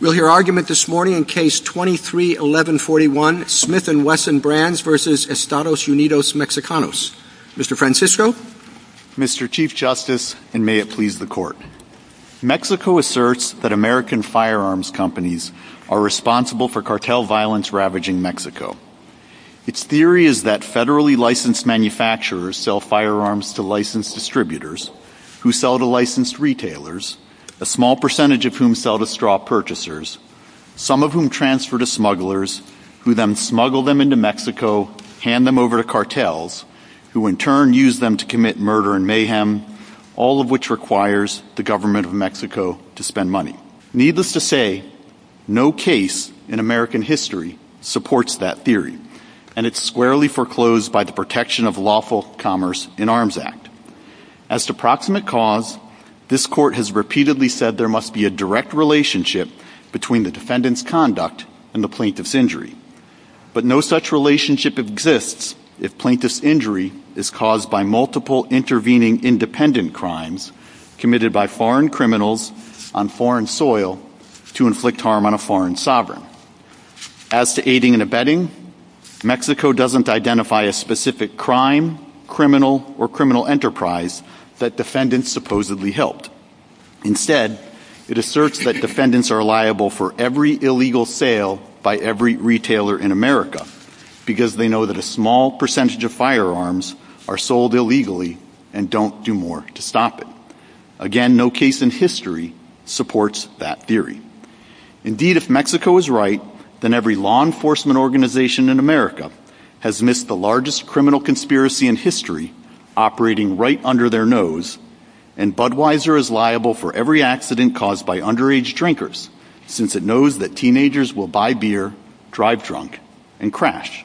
We'll hear argument this morning in Case 23-1141, Smith & Wesson Brands v. Estados Unidos Mexicanos. Mr. Francisco. Mr. Chief Justice, and may it please the Court. Mexico asserts that American firearms companies are responsible for cartel violence ravaging Mexico. Its theory is that federally licensed manufacturers sell firearms to licensed distributors, who sell to licensed some of whom transfer to smugglers, who then smuggle them into Mexico, hand them over to cartels, who in turn use them to commit murder and mayhem, all of which requires the government of Mexico to spend money. Needless to say, no case in American history supports that theory, and it's squarely foreclosed by the Protection of Lawful Commerce in Arms Act. As to proximate cause, this Court has repeatedly said there must be a direct relationship between the defendant's conduct and the plaintiff's injury, but no such relationship exists if plaintiff's injury is caused by multiple intervening independent crimes committed by foreign criminals on foreign soil to inflict harm on a foreign sovereign. As to aiding and abetting, Mexico doesn't identify a specific crime, criminal, or criminal enterprise that defendants supposedly helped. Instead, it asserts that defendants are liable for every illegal sale by every retailer in America, because they know that a small percentage of firearms are sold illegally and don't do more to stop it. Again, no case in history supports that theory. Indeed, if Mexico is right, then every law enforcement organization in America has missed the largest criminal conspiracy in history, operating right under their nose, and Budweiser is liable for every accident caused by underage drinkers, since it knows that teenagers will buy beer, drive drunk, and crash.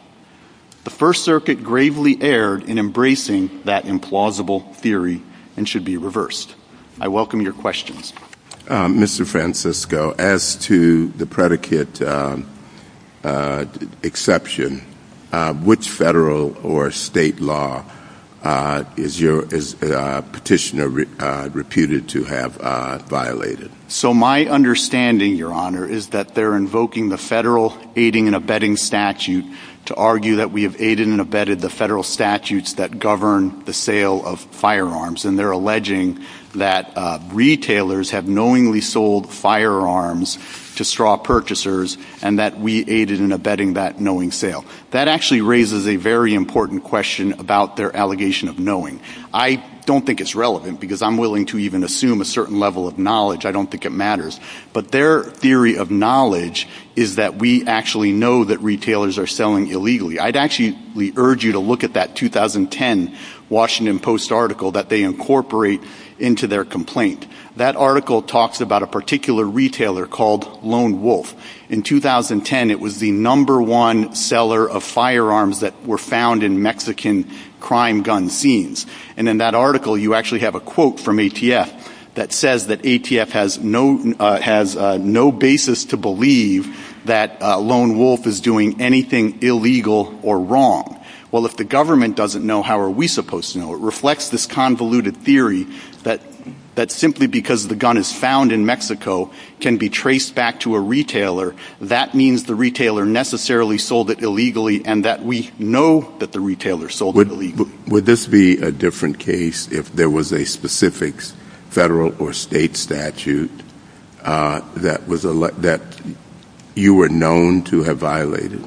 The First Circuit gravely erred in embracing that implausible theory and should be reversed. I welcome your questions. Mr. Francisco, as to the predicate exception, which federal or state law is your petitioner reputed to have violated? So my understanding, Your Honor, is that they're invoking the federal aiding and abetting statute to argue that we have aided and abetted the federal have knowingly sold firearms to straw purchasers, and that we aided and abetted that knowing sale. That actually raises a very important question about their allegation of knowing. I don't think it's relevant, because I'm willing to even assume a certain level of knowledge. I don't think it matters. But their theory of knowledge is that we actually know that retailers are selling illegally. I'd actually urge you to look at that 2010 Washington Post article that they incorporate into their complaint. That article talks about a particular retailer called Lone Wolf. In 2010, it was the number one seller of firearms that were found in Mexican crime gun scenes. And in that article, you actually have a quote from ATF that says that ATF has no basis to believe that Lone Wolf is doing anything illegal or wrong. Well, if the government doesn't know, how are we supposed to know? It reflects this convoluted theory that simply because the gun is found in Mexico can be traced back to a retailer. That means the retailer necessarily sold it illegally, and that we know that the retailer sold it illegally. Would this be a different case if there was a specific federal or state statute that you were known to have violated?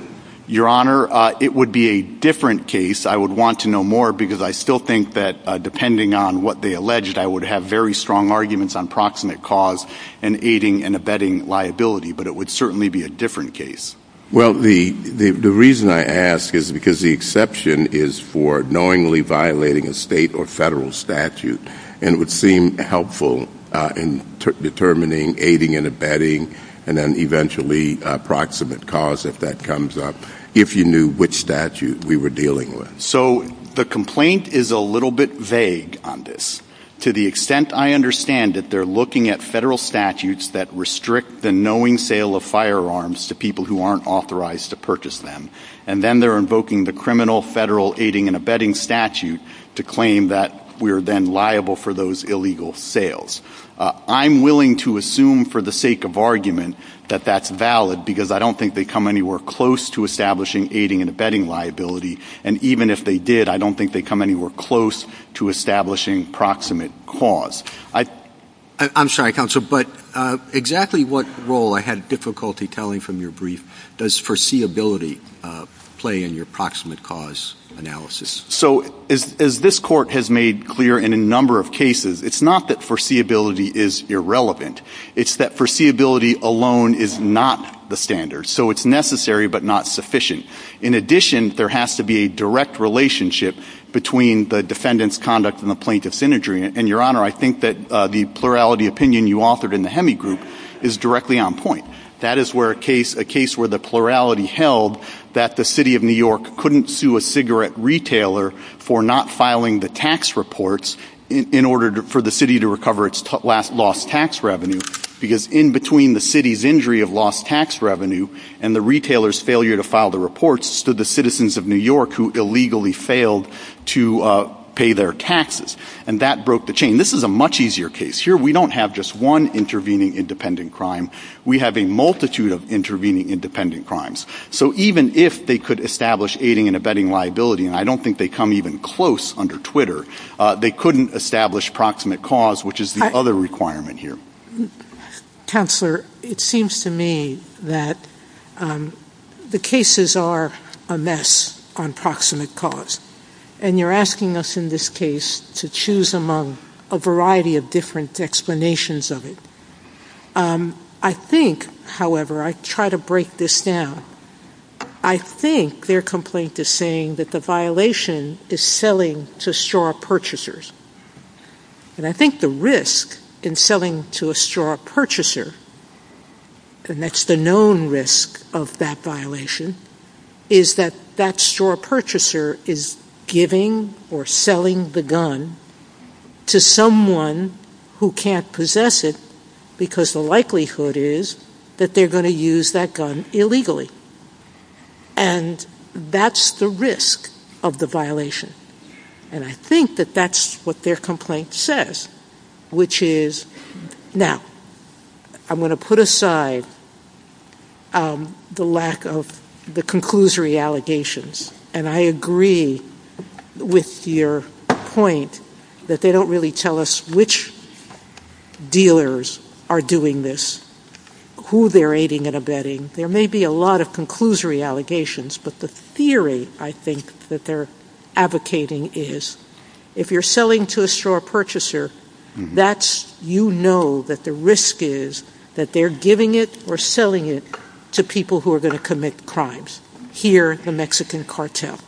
Your Honor, it would be a different case. I would want to know more because I still think that depending on what they alleged, I would have very strong arguments on proximate cause and aiding and abetting liability. But it would certainly be a different case. Well, the reason I ask is because the exception is for knowingly violating a state or federal statute. And it would seem helpful in determining aiding and abetting and then eventually proximate cause if that comes up, if you knew which statute we were dealing with. So the complaint is a little bit vague on this. To the extent I understand it, they're looking at federal statutes that restrict the knowing sale of firearms to people who aren't authorized to purchase them. And then they're invoking the criminal federal aiding and abetting statute to claim that we are then liable for those illegal sales. I'm willing to assume for the because I don't think they come anywhere close to establishing aiding and abetting liability. And even if they did, I don't think they come anywhere close to establishing proximate cause. I'm sorry, counsel, but exactly what role I had difficulty telling from your brief does foreseeability play in your proximate cause analysis? So as this court has made clear in a number of cases, it's not that foreseeability is irrelevant. It's that foreseeability alone is not the standard. So it's necessary, but not sufficient. In addition, there has to be a direct relationship between the defendant's conduct and the plaintiff's imagery. And your honor, I think that the plurality opinion you authored in the Hemi group is directly on point. That is where a case where the plurality held that the city of New York couldn't sue a cigarette retailer for not filing the tax reports in order for the city to recover lost tax revenue. Because in between the city's injury of lost tax revenue and the retailer's failure to file the reports to the citizens of New York who illegally failed to pay their taxes. And that broke the chain. This is a much easier case. Here we don't have just one intervening independent crime. We have a multitude of intervening independent crimes. So even if they could establish aiding and abetting liability, and I don't think they even come close under Twitter, they couldn't establish proximate cause, which is the other requirement here. Counselor, it seems to me that the cases are a mess on proximate cause. And you're asking us in this case to choose among a variety of different explanations of it. I think, however, I try to break this down. I think their complaint is saying that the violation is selling to straw purchasers. And I think the risk in selling to a straw purchaser, and that's the known risk of that violation, is that that straw purchaser is giving or selling the gun to someone who can't possess it because the likelihood is that they're going to use that gun illegally. And that's the risk of the violation. And I think that that's what their complaint says, which is, now, I'm going to put aside the lack of the conclusory allegations. And I agree with your point that they don't really tell us which dealers are doing this, who they're aiding and abetting. There may be a lot of conclusory allegations, but the theory, I think, that they're advocating is, if you're selling to a straw purchaser, you know that the risk is that they're giving it or selling it to people who are going to cartel.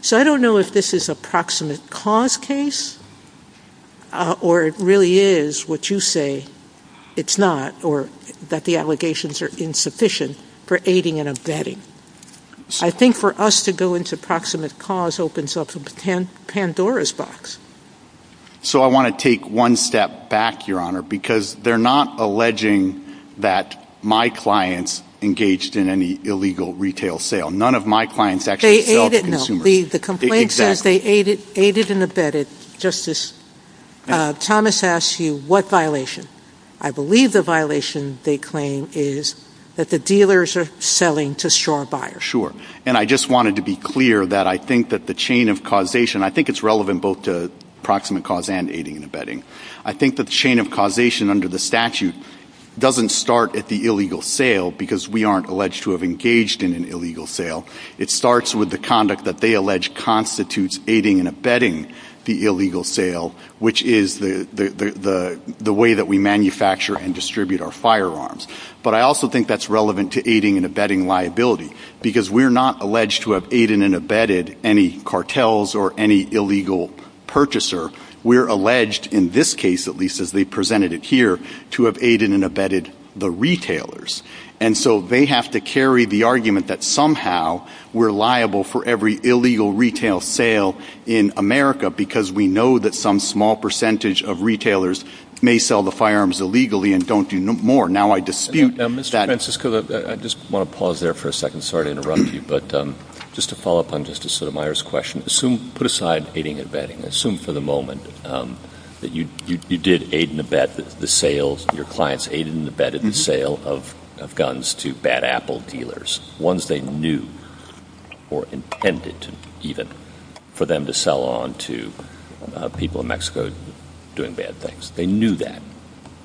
So I don't know if this is a proximate cause case, or it really is what you say it's not, or that the allegations are insufficient for aiding and abetting. I think for us to go into proximate cause opens up Pandora's box. So I want to take one step back, Your Honor, because they're not alleging that my clients engaged in any illegal retail sale. None of my clients actually sell to consumers. The complaint says they aided and abetted. Justice Thomas asks you, what violation? I believe the violation, they claim, is that the dealers are selling to straw buyers. Sure. And I just wanted to be clear that I think that the chain of causation, I think it's relevant both to proximate cause and aiding and abetting. I think that the chain of causation under the statute doesn't start at the illegal sale because we aren't alleged to have engaged in an illegal sale. It starts with the conduct that they allege constitutes aiding and abetting the illegal sale, which is the way that we manufacture and distribute our firearms. But I also think that's relevant to aiding and abetting liability because we're not alleged to have aided and abetted any cartels or any illegal purchaser. We're alleged in this case, at least as they here, to have aided and abetted the retailers. And so they have to carry the argument that somehow we're liable for every illegal retail sale in America because we know that some small percentage of retailers may sell the firearms illegally and don't do more. Now I dispute that. Mr. Francisco, I just want to pause there for a second. Sorry to interrupt you. But just to follow up on Justice Sotomayor's question, put aside aiding and abetting. Assume for the sales, your clients aided and abetted the sale of guns to bad apple dealers, ones they knew or intended to even for them to sell on to people in Mexico doing bad things. They knew that.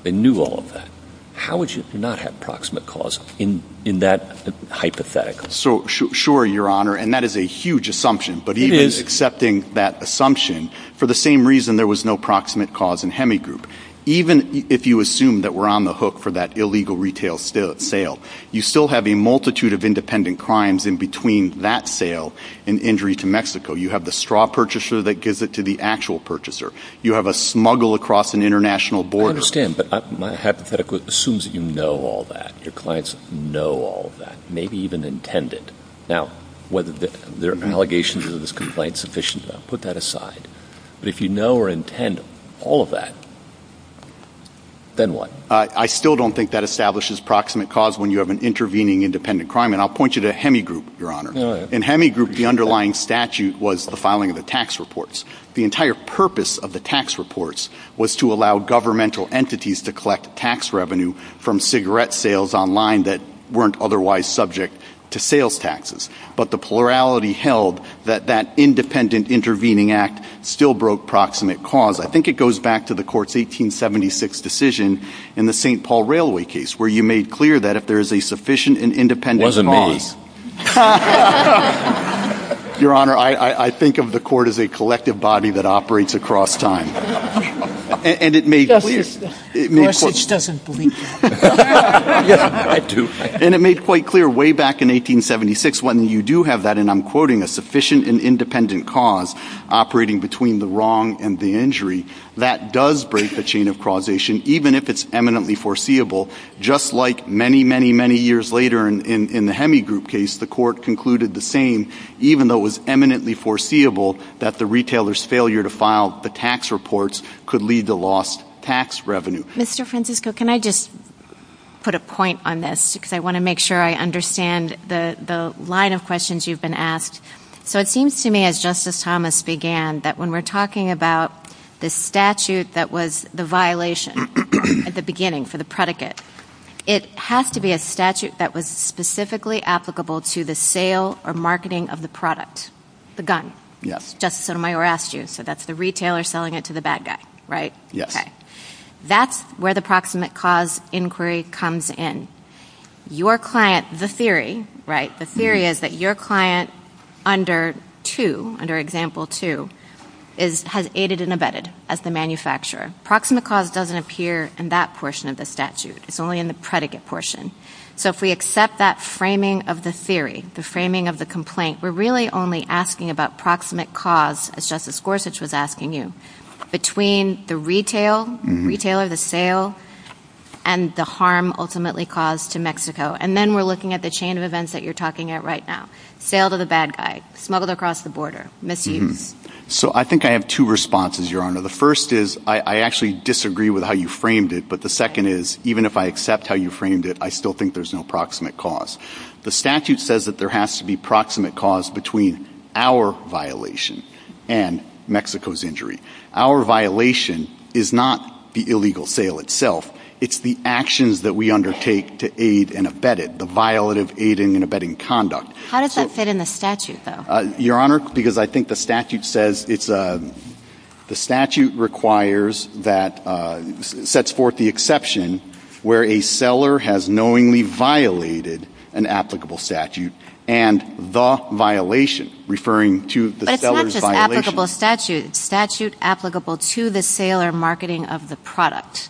They knew all of that. How would you not have proximate cause in that hypothetical? So sure, Your Honor. And that is a huge assumption. But even accepting that assumption, for the same reason there was no proximate cause in Hemigroup, even if you assume that we're on the hook for that illegal retail sale, you still have a multitude of independent crimes in between that sale and injury to Mexico. You have the straw purchaser that gives it to the actual purchaser. You have a smuggle across an international border. I understand. But my hypothetical assumes that you know all that. Your clients know all that, maybe even intended. Now, whether their allegations of this complaint is sufficient, I'll put that aside. But if you know or intend all of that, then what? I still don't think that establishes proximate cause when you have an intervening independent crime. And I'll point you to Hemigroup, Your Honor. In Hemigroup, the underlying statute was the filing of the tax reports. The entire purpose of the tax reports was to allow governmental entities to collect tax revenue from cigarette sales online that weren't otherwise subject to sales taxes. But the plurality held that that independent intervening act still broke proximate cause. I think it goes back to the court's 1876 decision in the St. Paul Railway case, where you made clear that if there is a sufficient and independent. Your Honor, I think of the court as a collective body that operates across time. And it made quite clear way back in 1876 when you do have that and I'm quoting a sufficient and independent cause operating between the wrong and the injury that does break the chain of causation, even if it's eminently foreseeable. Just like many, many, many years later in the Hemigroup case, the court concluded the same, even though it was eminently foreseeable that the retailer's failure to file the tax reports could lead to lost tax revenue. Mr. Francisco, can I just put a point on this? Because I want to make sure I understand the line of questions you've been asked. So it seems to me as Justice Thomas began that when we're talking about the statute that was the violation at the beginning for the predicate, it has to be a statute that was specifically applicable to the sale or marketing of the product, the gun. Justice Sotomayor asked you, so that's the retailer selling it to the bad guy, right? Okay. That's where the proximate cause inquiry comes in. Your client, the theory, right? The theory is that your client under two, under example two, has aided and abetted as the manufacturer. Proximate cause doesn't appear in that portion of the statute. It's only in the predicate portion. So if we accept that framing of the theory, the framing of the complaint, we're really only asking about proximate cause, as Justice Gorsuch was asking you, between the retailer, the sale, and the harm ultimately caused to Mexico. And then we're looking at the chain of events that you're talking at right now. Sale to the bad guy, smuggled across the border, misuse. So I think I have two responses, Your Honor. The first is I actually disagree with how you framed it. But the second is even if I accept how you framed it, I still think there's no proximate cause. The statute says that there has to be proximate cause between our violation and Mexico's injury. Our violation is not the illegal sale itself. It's the actions that we undertake to aid and abet it, the violative aiding and abetting conduct. How does that fit in the statute, though? Your Honor, because I think the statute says it's a, the statute requires that, sets forth the exception where a seller has knowingly violated an applicable statute and the violation, referring to the seller's violation. But it's not just applicable statute. Statute applicable to the sale or marketing of the product.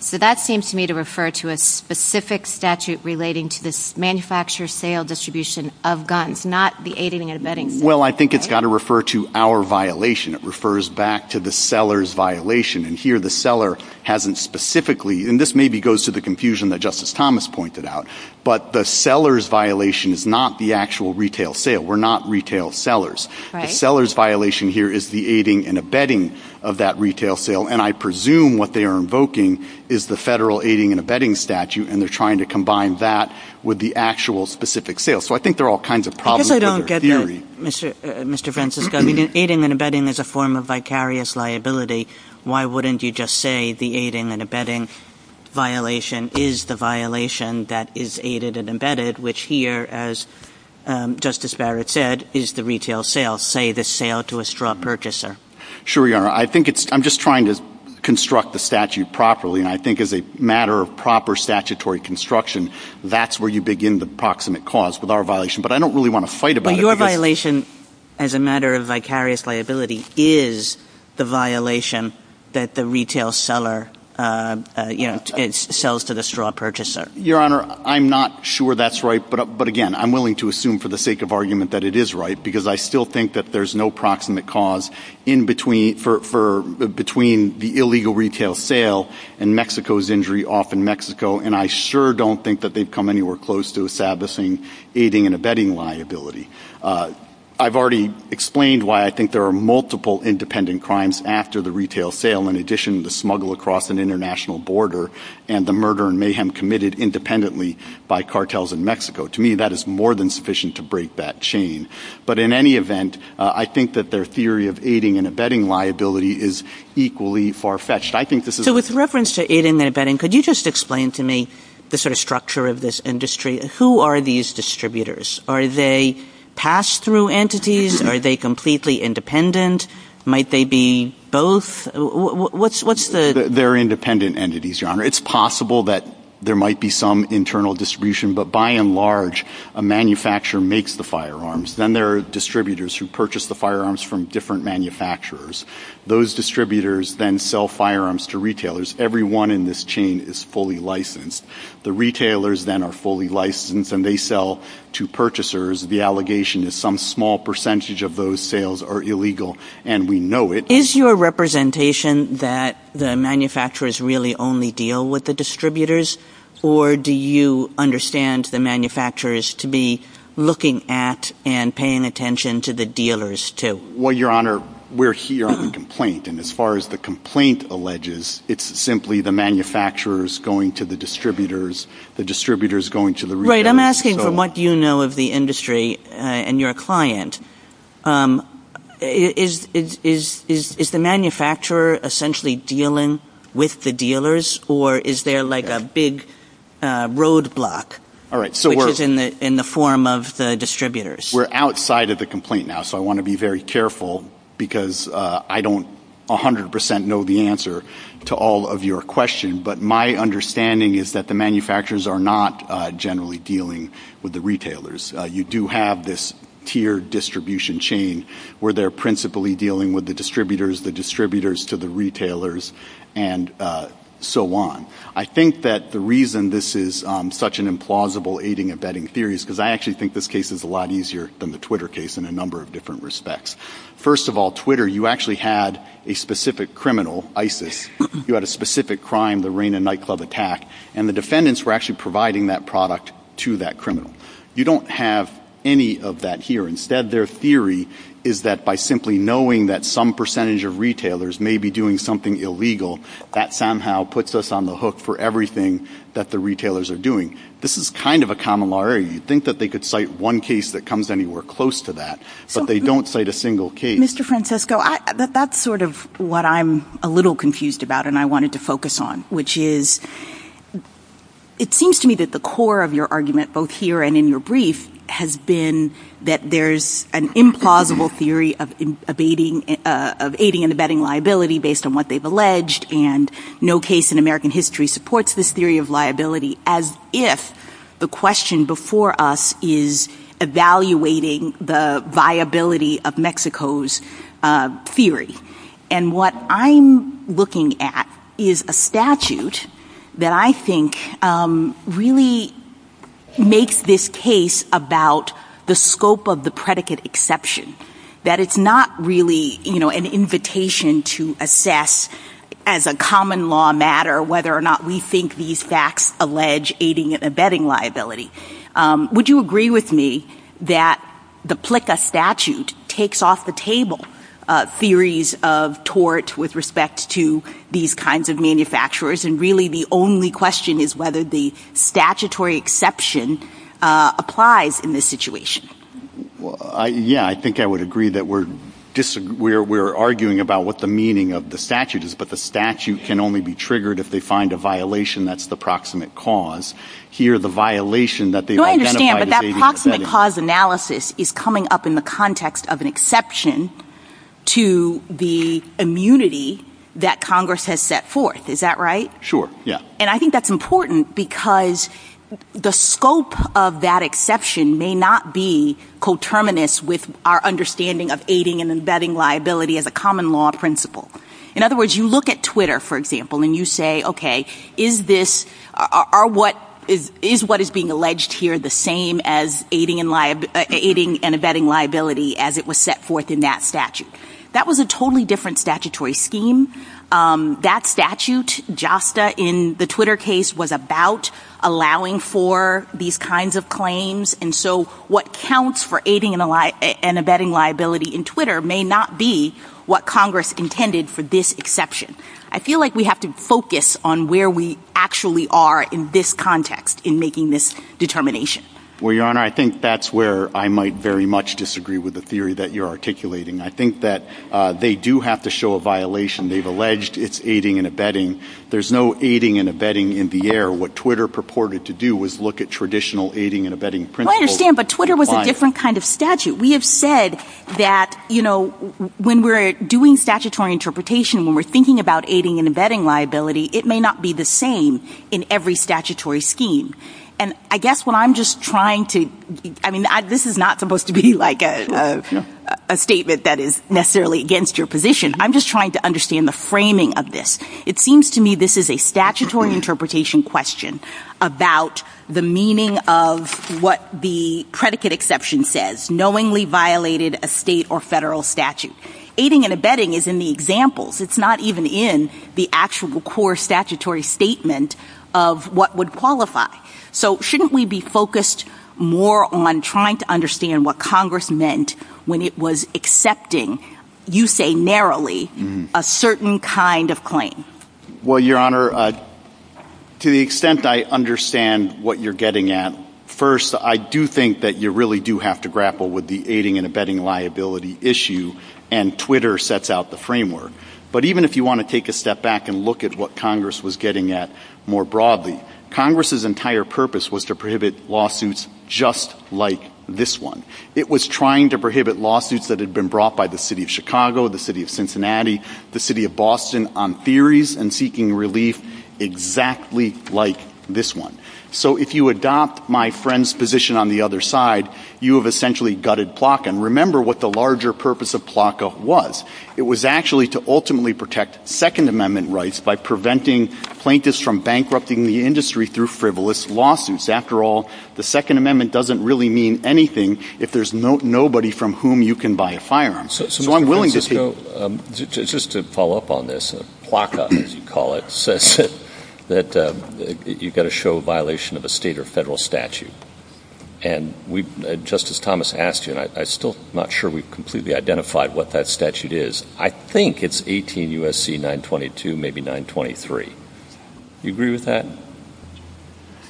So that seems to me to refer to a specific statute relating to this manufacturer sale distribution of guns, not the aiding and abetting. Well, I think it's got to refer to our violation. It refers back to the seller's violation. And here the seller hasn't specifically, and this maybe goes to the confusion that Justice Thomas pointed out, but the seller's violation is not the actual retail sale. We're not retail sellers. The seller's violation here is the aiding and abetting of that retail sale. And I presume what they are invoking is the federal aiding and abetting statute, and they're trying to combine that with the actual specific sale. So I think there are all kinds of problems with their theory. Mr. Francisco, aiding and abetting is a form of vicarious liability. Why wouldn't you just say the aiding and abetting violation is the violation that is aided and abetted, which here, as Justice Barrett said, is the retail sale, say the sale to a straw purchaser? Sure, Your Honor. I think it's – I'm just trying to construct the statute properly, and I think as a matter of proper statutory construction, that's where you begin the proximate cause with our violation. But I don't really want to fight about it. So your violation as a matter of vicarious liability is the violation that the retail seller, you know, sells to the straw purchaser? Your Honor, I'm not sure that's right. But again, I'm willing to assume for the sake of argument that it is right, because I still think that there's no proximate cause in between – for – between the illegal retail sale and Mexico's injury off in Mexico, and I sure don't think that they've come anywhere close to establishing aiding and abetting liability. I've already explained why I think there are multiple independent crimes after the retail sale, in addition to the smuggle across an international border and the murder and mayhem committed independently by cartels in Mexico. To me, that is more than sufficient to break that chain. But in any event, I think that their theory of aiding and abetting liability is equally far-fetched. I think this is – So with reference to aiding and abetting, could you just explain to me the sort of structure of this industry? Who are these distributors? Are they pass-through entities? Are they completely independent? Might they be both? What's the – They're independent entities, Your Honor. It's possible that there might be some internal distribution, but by and large, a manufacturer makes the firearms. Then there are distributors who purchase the firearms from different manufacturers. Those distributors then sell firearms to retailers. Everyone in this chain is fully licensed. The retailers then are fully licensed and they sell to purchasers. The allegation is some small percentage of those sales are illegal, and we know it. Is your representation that the manufacturers really only deal with the distributors, or do you understand the manufacturers to be looking at and paying attention to the dealers, too? Your Honor, we're here on a complaint, and as far as the complaint alleges, it's simply the manufacturers going to the distributors, the distributors going to the retailers. Right. I'm asking from what you know of the industry and your client, is the manufacturer essentially dealing with the dealers, or is there like a big roadblock, which is in the form of the distributors? We're outside of the complaint now, so I want to be very careful because I don't 100% know the answer to all of your questions, but my understanding is that the manufacturers are not generally dealing with the retailers. You do have this tiered distribution chain where they're principally dealing with the distributors, the distributors to the retailers, and so on. I think that the reason this is such an implausible aiding and abetting theory is because I actually think this case is a lot easier than the Twitter case in a number of different respects. First of all, Twitter, you actually had a specific criminal, ISIS, you had a specific crime, the Reina nightclub attack, and the defendants were actually providing that product to that criminal. You don't have any of that here. Instead, their theory is that by simply knowing that some percentage of retailers may be doing something illegal, that somehow puts us on the hook for everything that the retailers are doing. This is kind of a common law area. You'd think that they could cite one case that comes anywhere close to that, but they don't cite a single case. Mr. Francisco, that's sort of what I'm a little confused about and I wanted to focus on, which is it seems to me that the core of your argument both here and in your brief has been that there's an implausible theory of aiding and abetting liability based on what they've alleged and no case in American history supports this theory of liability as if the question before us is evaluating the viability of Mexico's theory. What I'm looking at is a statute that I think really makes this case about the scope of the predicate exception, that it's not really an invitation to assess as a common law matter whether or not we think these facts allege aiding and abetting liability. Would you agree with me that the PLCA statute takes off the table theories of tort with respect to these kinds of manufacturers and really the only question is whether the statutory exception applies in this situation? Yeah, I think I would agree that we're arguing about what the meaning of the statute is, but the statute can only be triggered if they find a violation that's the proximate cause. Here the violation that they identify as aiding and abetting... I understand, but that proximate cause analysis is coming up in the context of an exception to the immunity that Congress has set forth. Is that right? Sure, yeah. I think that's important because the scope of that exception may not be coterminous with our understanding of aiding and abetting liability as a common law principle. In other words, you look at Twitter, for example, and you say, okay, is what is being alleged here the same as aiding and abetting liability as it was set forth in that statute? That was a Twitter case was about allowing for these kinds of claims and so what counts for aiding and abetting liability in Twitter may not be what Congress intended for this exception. I feel like we have to focus on where we actually are in this context in making this determination. Well, Your Honor, I think that's where I might very much disagree with the theory that you're articulating. I think that they do have to show a violation. They've alleged it's aiding and abetting. There's no aiding and abetting in the air. What Twitter purported to do was look at traditional aiding and abetting principles. I understand, but Twitter was a different kind of statute. We have said that when we're doing statutory interpretation, when we're thinking about aiding and abetting liability, it may not be the same in every statutory scheme. I guess what I'm just trying to... This is not supposed to be a statement that is necessarily against your position. I'm just trying to understand the framing of this. It seems to me this is a statutory interpretation question about the meaning of what the predicate exception says, knowingly violated a state or federal statute. Aiding and abetting is in the examples. It's not even in the actual core statutory statement of what would qualify. Shouldn't we be focused more on trying to get a certain kind of claim? Well, Your Honor, to the extent I understand what you're getting at, first, I do think that you really do have to grapple with the aiding and abetting liability issue, and Twitter sets out the framework. Even if you want to take a step back and look at what Congress was getting at more broadly, Congress's entire purpose was to prohibit lawsuits just like this one. It was trying to prohibit lawsuits that had been brought by the city of Chicago, the city of Cincinnati, the city of Boston, on theories and seeking relief exactly like this one. So if you adopt my friend's position on the other side, you have essentially gutted Plocka. And remember what the larger purpose of Plocka was. It was actually to ultimately protect Second Amendment rights by preventing plaintiffs from bankrupting the industry through frivolous lawsuits. After all, the Second Amendment doesn't really mean anything if there's nobody from whom you can buy a firearm. Just to follow up on this, Plocka, as you call it, says that you've got to show a violation of a state or federal statute. And just as Thomas asked you, and I'm still not sure we've completely identified what that statute is, I think it's 18 U.S.C. 922, maybe 923. You agree with that?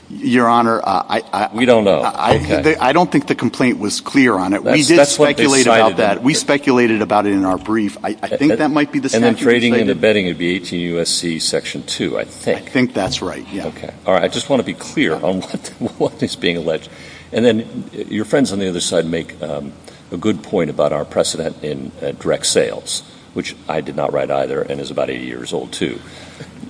Your Honor, I... We don't know. I don't think the complaint was clear on it. We did speculate about that. We speculated about it in our brief. I think that might be the statute. And then trading and betting would be 18 U.S.C. section 2, I think. I think that's right, yeah. Okay. All right. I just want to be clear on what is being alleged. And then your friends on the other side make a good point about our precedent in direct sales, which I did not write either and is about eight years old, too.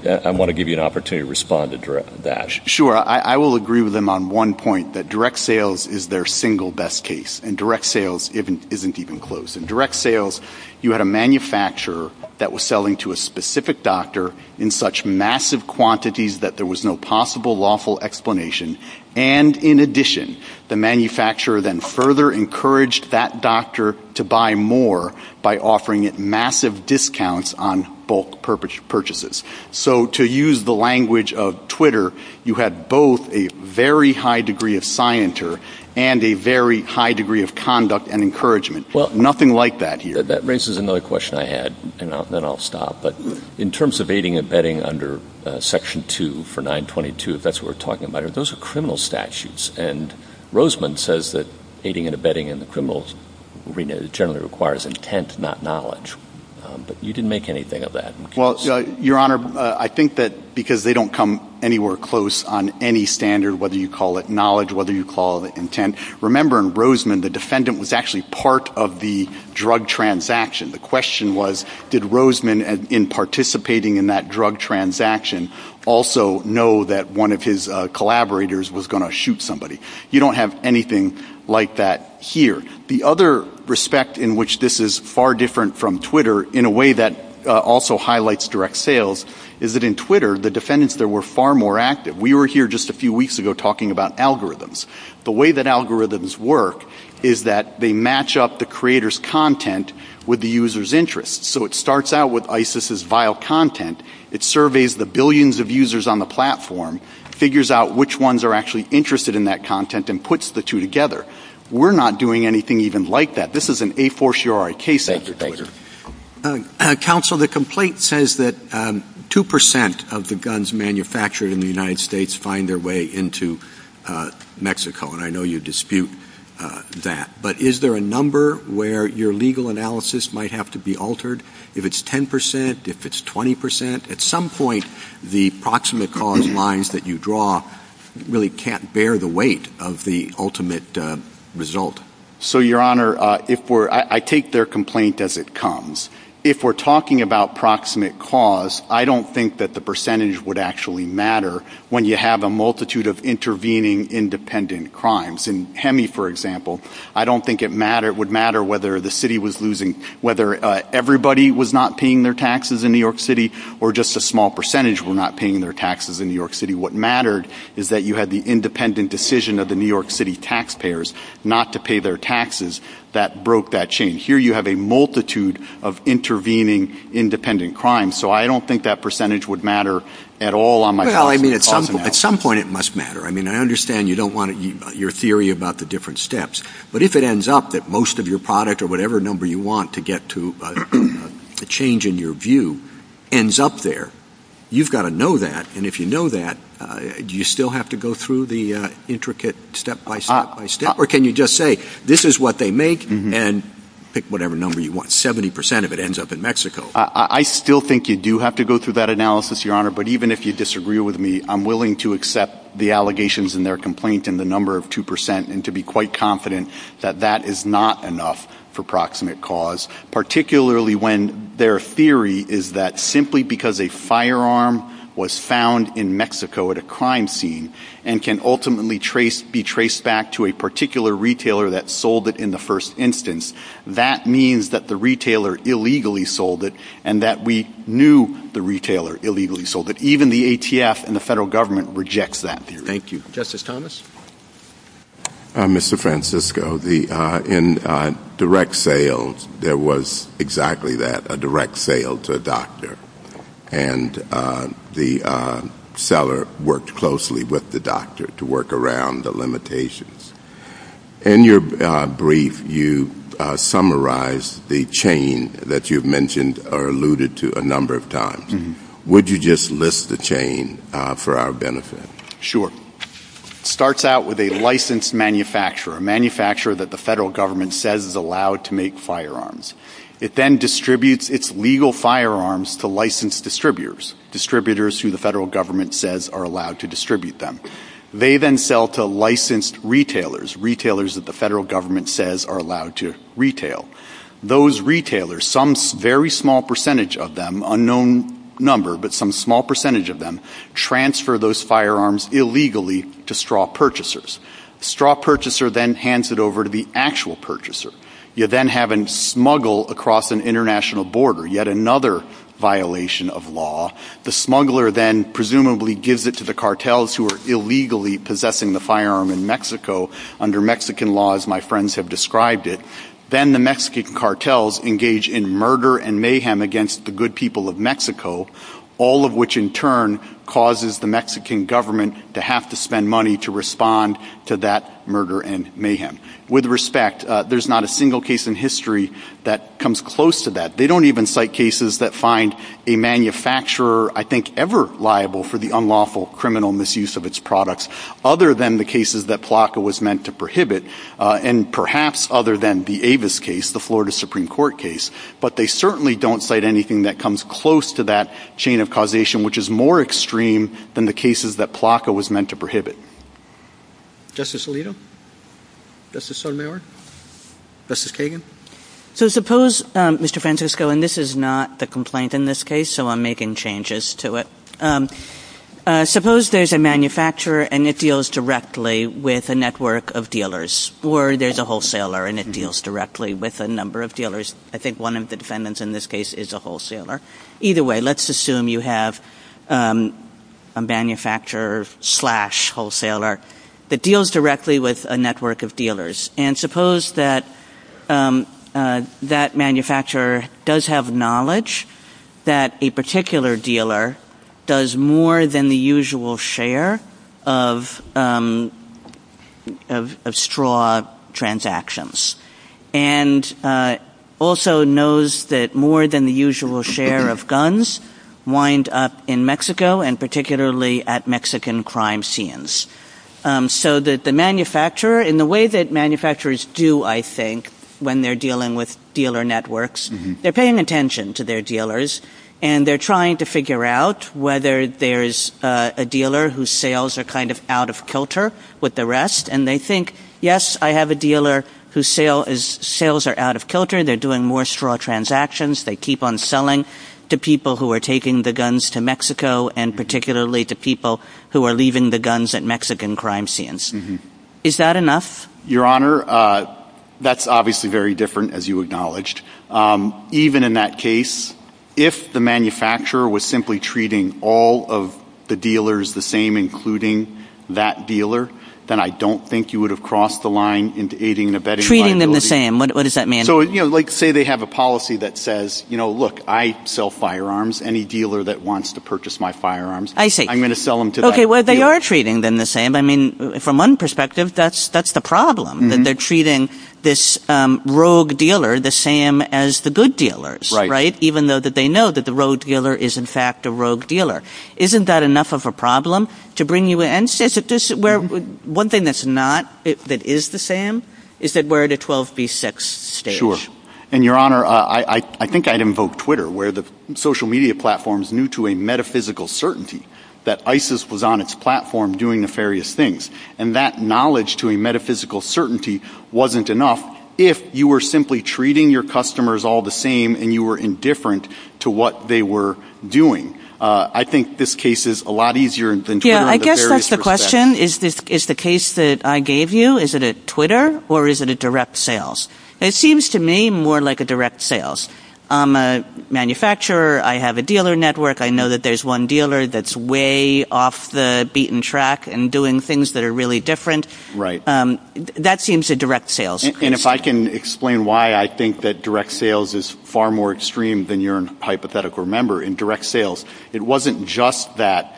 I want to give you an opportunity to respond to that. Sure. I will agree with him on one point, that direct sales is their single best case. And direct sales isn't even close. In direct sales, you had a manufacturer that was selling to a specific doctor in such massive quantities that there was no possible lawful explanation. And in addition, the manufacturer then further encouraged that doctor to buy more by offering massive discounts on bulk purchases. So to use the language of Twitter, you had both a very high degree of scienter and a very high degree of conduct and encouragement. Well, nothing like that here. That raises another question I had, and then I'll stop. But in terms of aiding and abetting under section 2 for 922, if that's what we're talking about, those are criminal statutes. And Roseman says that aiding and abetting in the criminal arena generally requires intent, not knowledge. You can make anything of that. Well, Your Honor, I think that because they don't come anywhere close on any standard, whether you call it knowledge, whether you call it intent. Remember in Roseman, the defendant was actually part of the drug transaction. The question was, did Roseman, in participating in that drug transaction, also know that one of his collaborators was going to shoot somebody? You don't have anything like that here. The other respect in which this is far different from Twitter, in a way that also highlights direct sales, is that in Twitter, the defendants there were far more active. We were here just a few weeks ago talking about algorithms. The way that algorithms work is that they match up the creator's content with the user's interest. So it starts out with ISIS's vile content. It surveys the billions of users on the platform, figures out which ones are actually interested in that content, and puts the two together. We're not doing anything even like that. This is an a force, you are a case of Twitter. Counsel, the complaint says that 2% of the guns manufactured in the United States find their way into Mexico, and I know you dispute that. But is there a number where your legal analysis might have to be altered? If it's 10%, if it's 20%? At some point, the proximate cause lines that you draw really can't bear the weight of the ultimate result. So Your Honor, I take their complaint as it comes. If we're talking about proximate cause, I don't think that the percentage would actually matter when you have a multitude of intervening independent crimes. In Hemi, for example, I don't think it would matter whether the city was losing, whether everybody was not paying their taxes in New York City, or just a small percentage were not paying their taxes in New York City. What mattered is that you had the independent decision of the New York City taxpayers not to pay their taxes that broke that chain. Here you have a multitude of intervening independent crimes. So I don't think that percentage would matter at all on my part. Well, I mean, at some point it must matter. I mean, I understand you don't want your theory about the different steps. But if it ends up that most of your product or whatever number you want to get to change in your view ends up there, you've got to know that. And if you know that, do you still have to go through the intricate step by step by step? Or can you just say, this is what they make, and pick whatever number you want. 70% of it ends up in Mexico. I still think you do have to go through that analysis, Your Honor. But even if you disagree with me, I'm willing to accept the allegations in their complaint and the number of 2% and to be quite confident that that is not enough for proximate cause, particularly when their theory is that simply because a firearm was found in Mexico at a crime scene, and can ultimately be traced back to a particular retailer that sold it in the first instance, that means that the retailer illegally sold it, and that we knew the retailer illegally sold it. Even the ATF and the federal government rejects that theory. Thank you. Justice Thomas? Mr. Francisco, in direct sales, there was exactly that, a direct sale to a doctor. And the seller worked closely with the doctor to work around the limitations. In your brief, you summarized the chain that you've mentioned or alluded to a number of times. Would you just list the chain for our benefit? Sure. It starts out with a licensed manufacturer, a manufacturer that the federal government says is allowed to make firearms. It then distributes its legal firearms to licensed distributors, distributors who the federal government says are allowed to distribute them. They then sell to licensed retailers, retailers that the federal government says are allowed to retail. Those retailers, some very small percentage of them, unknown number, but some small percentage of them, transfer those firearms illegally to straw purchasers. Straw purchaser then hands it over to the actual purchaser. You then have a smuggle across an international border, yet another violation of law. The smuggler then presumably gives it to the cartels who are illegally possessing the firearm in Mexico under Mexican law, as my friends have described it. Then the Mexican cartels engage in murder and mayhem against the good people of Mexico, all of which in turn causes the Mexican government to have to spend money to respond to that murder and mayhem. With respect, there's not a single case in history that comes close to that. They don't even cite cases that find a manufacturer, I think, ever liable for the unlawful criminal misuse of its products other than the cases that PLACA was meant to prohibit, and perhaps other than the Avis case, the Florida Supreme Court case. But they certainly don't cite anything that comes close to that chain of causation, which is more extreme than the cases that PLACA was meant to prohibit. Justice Alito? Justice Sunower? Justice Kagan? So suppose, Mr. Francisco, and this is not the complaint in this case, so I'm making changes to it. Suppose there's a manufacturer and it deals directly with a network of dealers, or there's a wholesaler and it deals directly with a number of dealers. I think one of the defendants in this case is a wholesaler. Either way, let's assume you have a manufacturer-slash-wholesaler that deals directly with a network of dealers. And suppose that that manufacturer does have knowledge that a particular dealer does more than the usual share of straw transactions. And suppose that that particular dealer does and also knows that more than the usual share of guns wind up in Mexico, and particularly at Mexican crime scenes. So that the manufacturer, in the way that manufacturers do, I think, when they're dealing with dealer networks, they're paying attention to their dealers and they're trying to figure out whether there's a dealer whose sales are kind of out of kilter with the rest. And they think, yes, I have a dealer whose sales are out of kilter, they're doing more straw transactions, they keep on selling to people who are taking the guns to Mexico, and particularly to people who are leaving the guns at Mexican crime scenes. Is that enough? Your Honor, that's obviously very different, as you acknowledged. Even in that case, if the manufacturer was simply treating all of the dealers the same, including that dealer, then I don't think you would have crossed the line into aiding and abetting liability. Treating them the same, what does that mean? Say they have a policy that says, look, I sell firearms, any dealer that wants to purchase my firearms, I'm going to sell them to them. Okay, well, they are treating them the same. I mean, from one perspective, that's the problem that they're treating this rogue dealer the same as the good dealers, right? Even though they know that the rogue dealer is, in fact, a rogue dealer. Isn't that enough of a problem to bring you in? One thing that's not, that is the same, is that we're at a 12 v. 6 stage. Sure. And, Your Honor, I think I'd invoke Twitter, where the social media platforms knew to a metaphysical certainty that ISIS was on its platform doing nefarious things. And that knowledge to a metaphysical certainty wasn't enough. If you were simply treating your customers all the same and you were indifferent to what they were doing, I think this case is a lot easier in terms of various perspectives. Yeah, I guess that's the question. Is the case that I gave you, is it a Twitter or is it a direct sales? It seems to me more like a direct sales. I'm a manufacturer. I have a dealer network. I know that there's one dealer that's way off the beaten track and doing things that are really different. That seems a direct sales. And if I can explain why I think that direct sales is far more extreme than you're hypothetical, remember, in direct sales, it wasn't just that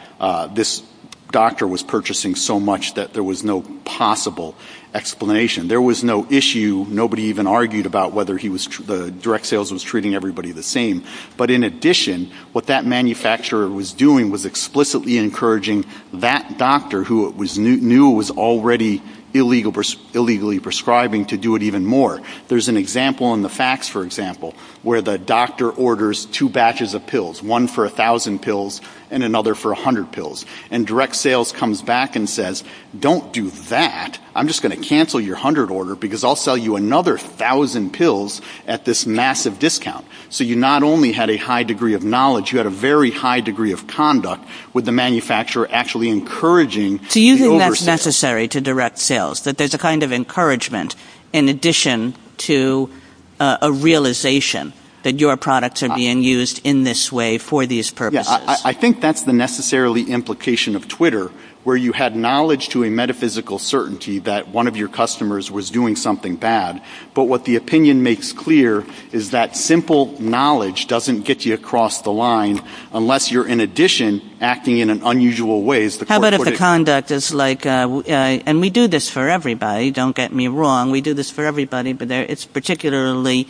this doctor was purchasing so much that there was no possible explanation. There was no issue. Nobody even argued about whether he was, the direct sales was treating everybody the same. But in addition, what that manufacturer was doing was explicitly encouraging that doctor who knew it was already illegally prescribing to do it even more. There's an example in the fax, for example, where the doctor orders two batches of pills, one for a thousand pills and another for a hundred pills. And direct sales comes back and says, don't do that. I'm just going to cancel your hundred order because I'll sell you another thousand pills at this massive discount. So you not only had a high degree of knowledge, you had a very high degree of conduct with the manufacturer actually encouraging the over sales. It's necessary to direct sales, but there's a kind of encouragement in addition to a realization that your products are being used in this way for these purposes. I think that's the necessarily implication of Twitter, where you had knowledge to a metaphysical certainty that one of your customers was doing something bad. But what the opinion makes clear is that simple knowledge doesn't get you across the line unless you're in addition acting in an unusual ways. How about if the conduct is like, and we do this for everybody. Don't get me wrong. We do this for everybody, but it's particularly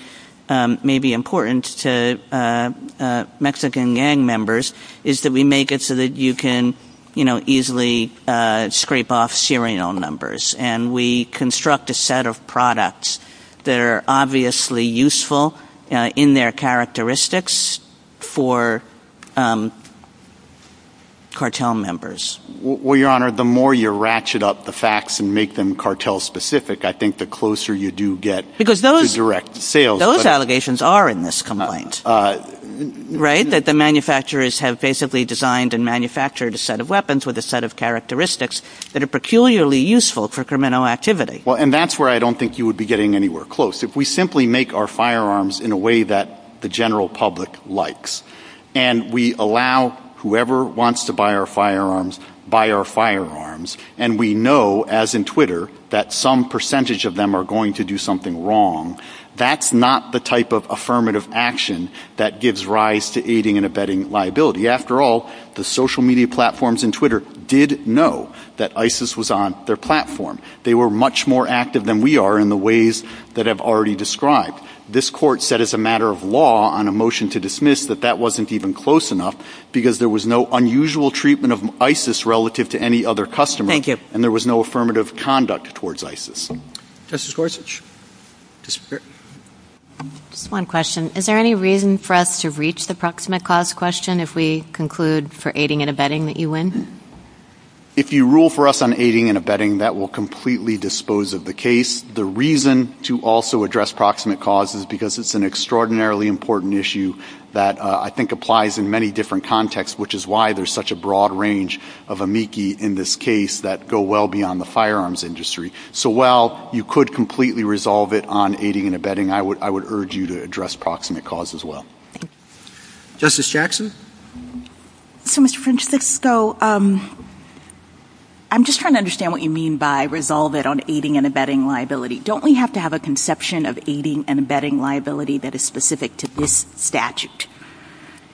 maybe important to Mexican gang members is that we make it so that you can easily scrape off serial numbers. And we construct a set of products that are obviously useful in their characteristics for cartel members. Well, Your Honor, the more you ratchet up the facts and make them cartel specific, I think the closer you do get direct sales. Those allegations are in this complaint, right? That the manufacturers have basically designed and manufactured a set of weapons with a set of characteristics that are peculiarly useful for criminal activity. And that's where I don't think you would be getting anywhere close. If we simply make our firearms in a way that the general public likes, and we allow whoever wants to buy our firearms, buy our firearms. And we know as in Twitter, that some percentage of them are going to do something wrong. That's not the type of affirmative action that gives rise to aiding and abetting liability. After all, the social media platforms in Twitter did know that ISIS was on their platform. They were much more active than we are in the ways that I've already described. This court set as a matter of law on a motion to dismiss that that wasn't even close enough because there was no unusual treatment of ISIS relative to any other customer. And there was no affirmative conduct towards ISIS. Justice Worsitch? Just one question. Is there any reason for us to reach the proximate cause question if we conclude for aiding and abetting that you win? If you rule for us on aiding and abetting, that will completely dispose of the case. The reason to also address proximate cause is because it's an extraordinarily important issue that I think applies in many different contexts, which is why there's such a broad range of amici in this case that go well beyond the firearms industry. So while you could completely resolve it on aiding and abetting, I would urge you to address proximate cause as well. Justice Jackson? So, Mr. Francisco, I'm just trying to understand what you mean by resolve it on aiding and abetting liability. Don't we have to have a conception of aiding and abetting liability that is specific to this statute?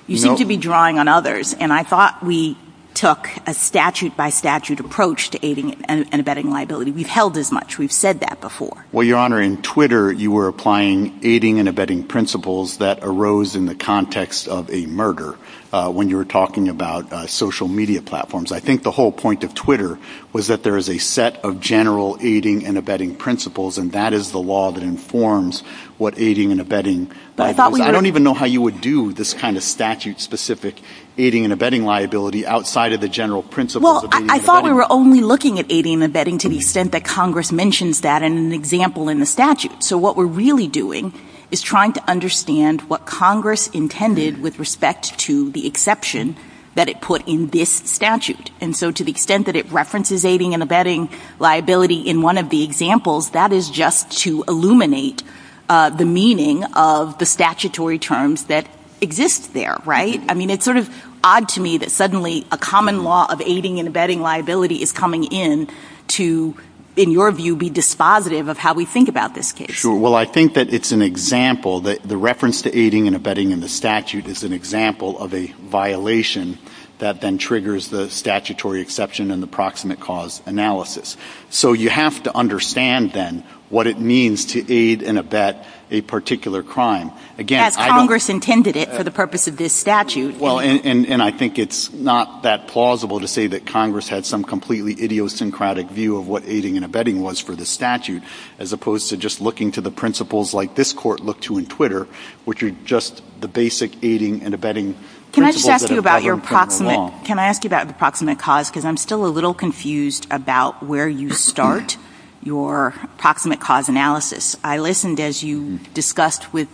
You seem to be drawing on others. And I thought we took a statute by statute approach to aiding and abetting liability. We've held as much. We've said that before. Well, Your Honor, in Twitter, you were applying aiding and abetting principles that arose in the context of a murder when you were talking about social media platforms. I think the whole point of Twitter was that there is a set of general aiding and abetting principles, and that is the law that informs what aiding and abetting liability is. I don't even know how you would do this kind of statute-specific aiding and abetting liability outside of the general principles of aiding and abetting. Well, I thought we were only looking at aiding and abetting to the extent that Congress mentions that in an example in the statute. So what we're really doing is trying to understand what Congress intended with respect to the exception that it put in this statute. And so to the extent that it references aiding and abetting liability in one of the examples, that is just to illuminate the meaning of the statutory terms that exist there, right? I mean, it's sort of odd to me that suddenly a common law of aiding and abetting liability is coming in to, in your view, be dispositive of how we think about this case. Sure. Well, I think that it's an example that the reference to aiding and abetting in the statute is an example of a violation that then triggers the statutory exception in the proximate cause analysis. So you have to understand, then, what it means to aid and abet a particular crime. Again, I don't- That's Congress intended it for the purpose of this statute. Well, and I think it's not that plausible to say that Congress had some completely idiosyncratic view of what aiding and abetting was for the statute, as opposed to just looking to the principles like this court looked to in Twitter, which are just the basic aiding and abetting principles that are prevalent in the law. Can I ask you about the proximate cause? Because I'm still a little confused about where you start your proximate cause analysis. I listened, as you discussed with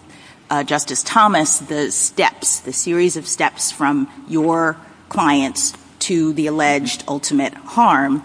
Justice Thomas, the series of steps from your clients to the alleged ultimate harm.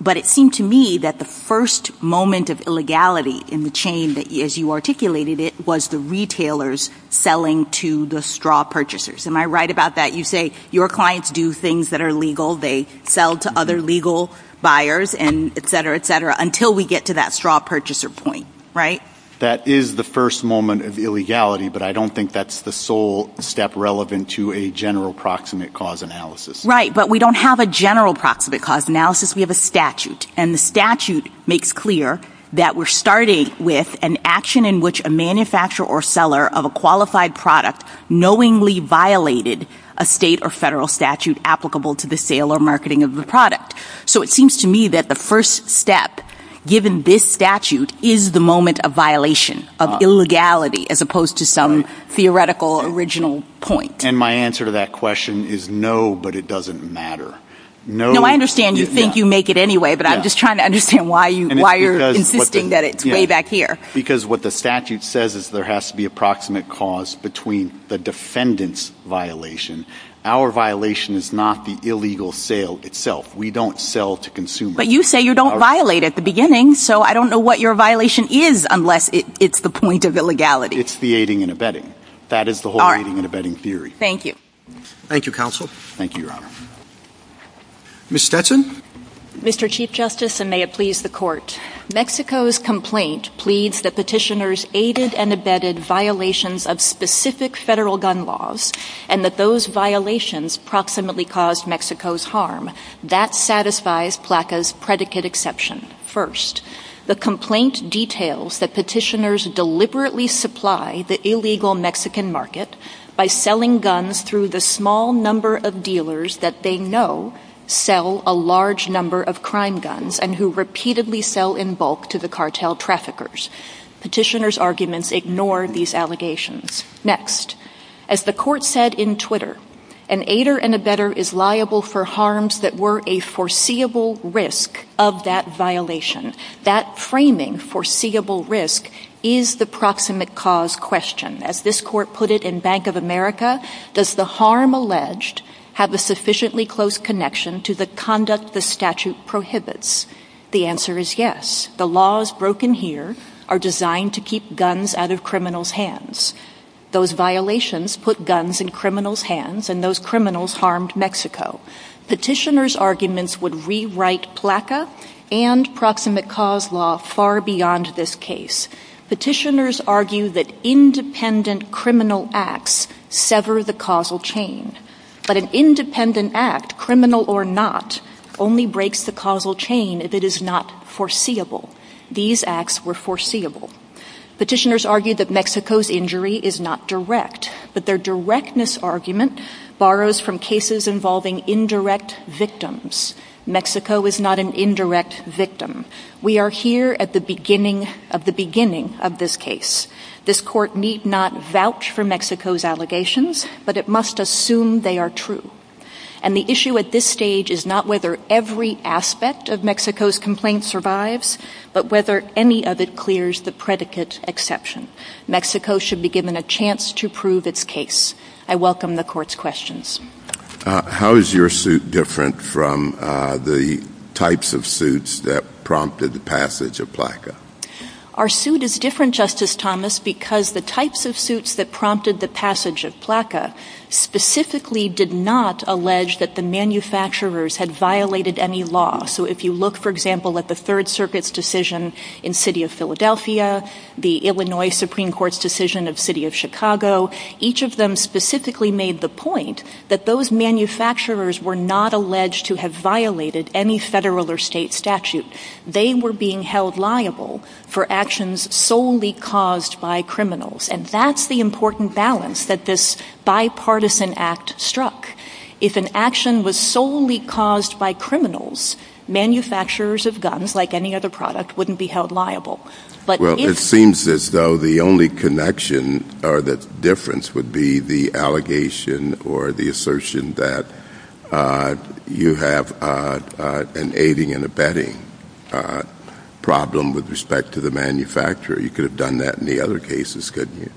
But it seemed to me that the first moment of illegality in the chain, as you articulated it, was the retailers selling to the straw purchasers. Am I right about that? You say your clients do things that are legal. They sell to other legal buyers, and et cetera, et cetera, until we get to that straw purchaser point, right? That is the first moment of illegality, but I don't think that's the sole step relevant to a general proximate cause analysis. Right, but we don't have a general proximate cause analysis. We have a statute, and the statute makes clear that we're starting with an action in which a manufacturer or seller of a qualified product knowingly violated a state or federal statute applicable to the sale or marketing of the product. So it seems to me that the first step, given this statute, is the moment of violation, of illegality, as opposed to some theoretical original point. And my answer to that question is no, but it doesn't matter. No, I understand you think you make it anyway, but I'm just trying to understand why you're insisting that it's way back here. Because what the statute says is there has to be a proximate cause between the defendant's violation. Our violation is not the illegal sale itself. We don't sell to consumers. But you say you don't violate at the beginning, so I don't know what your violation is unless it's the point of illegality. It's the aiding and abetting. That is the whole aiding and abetting theory. Thank you. Thank you, counsel. Thank you, your honor. Ms. Stetson? Mr. Chief Justice, and may it please the court, Mexico's complaint pleads that petitioners aided and abetted violations of specific federal gun laws, and that those violations proximately caused Mexico's harm. That satisfies PLACA's predicate exception. First, the complaint details that petitioners deliberately supply the illegal Mexican market by selling guns through the small number of dealers that they know sell a large number of crime guns and who repeatedly sell in bulk to the cartel traffickers. Petitioners' arguments ignore these allegations. Next, as the court said in Twitter, an aider and abetter is liable for harms that were a foreseeable risk of that violation. That framing, foreseeable risk, is the proximate cause question. As this court put it in Bank of America, does the harm alleged have a sufficiently close connection to the conduct the statute prohibits? The answer is yes. The laws broken here are designed to keep guns out of criminals' hands. Those violations put guns in criminals' hands, and those criminals harmed Mexico. Petitioners' arguments would rewrite PLACA and proximate cause law far beyond this case. Petitioners argue that independent criminal acts sever the causal chain. But an independent act, criminal or not, only breaks the causal chain if it is not foreseeable. These acts were foreseeable. Petitioners argue that Mexico's injury is not direct, but their directness argument borrows from cases involving indirect victims. Mexico is not an indirect victim. We are here at the beginning of this case. This court need not vouch for Mexico's allegations, but it must assume they are true. And the issue at this stage is not whether every aspect of Mexico's complaint survives, but whether any of it clears the predicate exception. Mexico should be given a chance to prove its case. I welcome the court's questions. How is your suit different from the types of suits that prompted the passage of PLACA? Our suit is different, Justice Thomas, because the types of suits that prompted the passage of PLACA specifically did not allege that the manufacturers had violated any law. So if you look, for example, at the Third Circuit's decision in the city of Philadelphia, the Illinois Supreme Court's decision in the city of Chicago, each of them specifically made the point that those manufacturers were not alleged to have violated any federal or state statute. They were being held liable for actions solely caused by criminals. And that's the important balance that this bipartisan act struck. If an action was solely caused by criminals, manufacturers of guns, like any other product, wouldn't be held liable. Well, it seems as though the only connection or the difference would be the allegation or the assertion that you have an aiding and abetting problem with respect to the manufacturer. You could have done that in the other cases, couldn't you?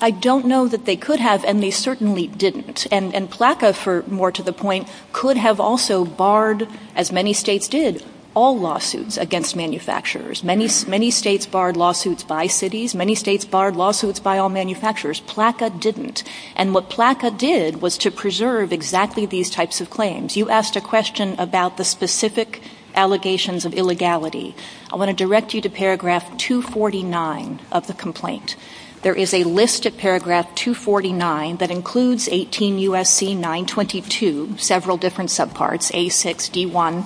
I don't know that they could have, and they certainly didn't. And PLACA, more to the point, could have also barred, as many states did, all lawsuits against manufacturers. Many states barred lawsuits by cities. Many states barred lawsuits by all manufacturers. PLACA didn't. And what PLACA did was to preserve exactly these types of claims. You asked a question about the specific allegations of illegality. I want to direct you to paragraph 249 of the complaint. There is a list at paragraph 249 that includes 18 U.S.C. 922, several different subparts, A6, D1,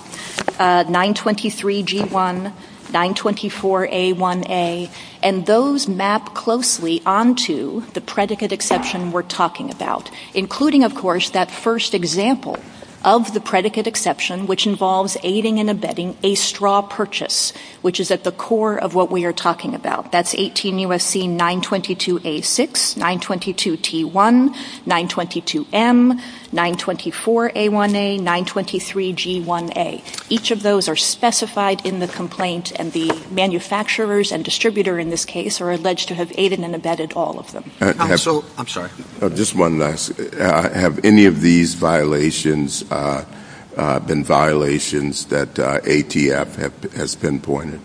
923 G1, 924 A1A, and those map closely onto the predicate exception we're talking about. That's 18 U.S.C. 922 A6, 922 T1, 922 M, 924 A1A, 923 G1A. Each of those are specified in the complaint, and the manufacturers and distributors in this case are alleged to have aided and abetted all of them. Have any of these violations been violations that ATF has pinpointed?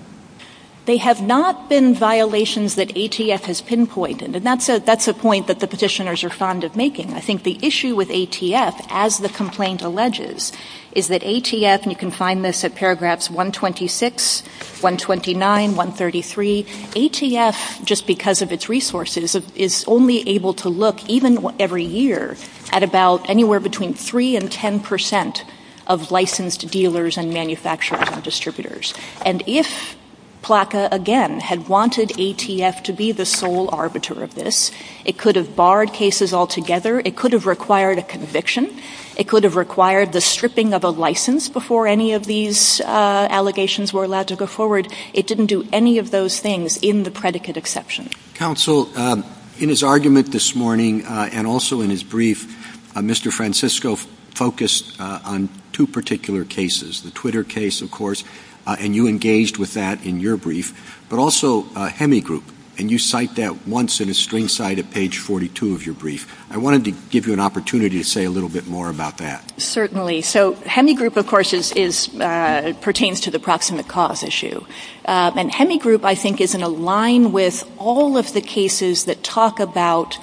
They have not been violations that ATF has pinpointed, and that's a point that the positioners are fond of making. I think the issue with ATF, as the complaint alleges, is that ATF, and you can find this at paragraphs 126, 129, 133, ATF, just because of its resources, is only able to look, even every year, at about anywhere between 3 and 10 percent of licensed dealers and manufacturers and distributors. And if PLACA, again, had wanted ATF to be the sole arbiter of this, it could have barred cases altogether, it could have required a conviction, it could have required the stripping of a license before any of these allegations were allowed to go forward. It didn't do any of those things in the predicate exception. Counsel, in his argument this morning, and also in his brief, Mr. Francisco focused on two particular cases, the Twitter case, of course, and you engaged with that in your brief, but also Hemi Group, and you cite that once in a string cite at page 42 of your brief. I wanted to give you an opportunity to say a little bit more about that. Certainly. So, Hemi Group, of course, pertains to the proximate cause issue. And Hemi Group, I think, is in a line with all of the cases that talk about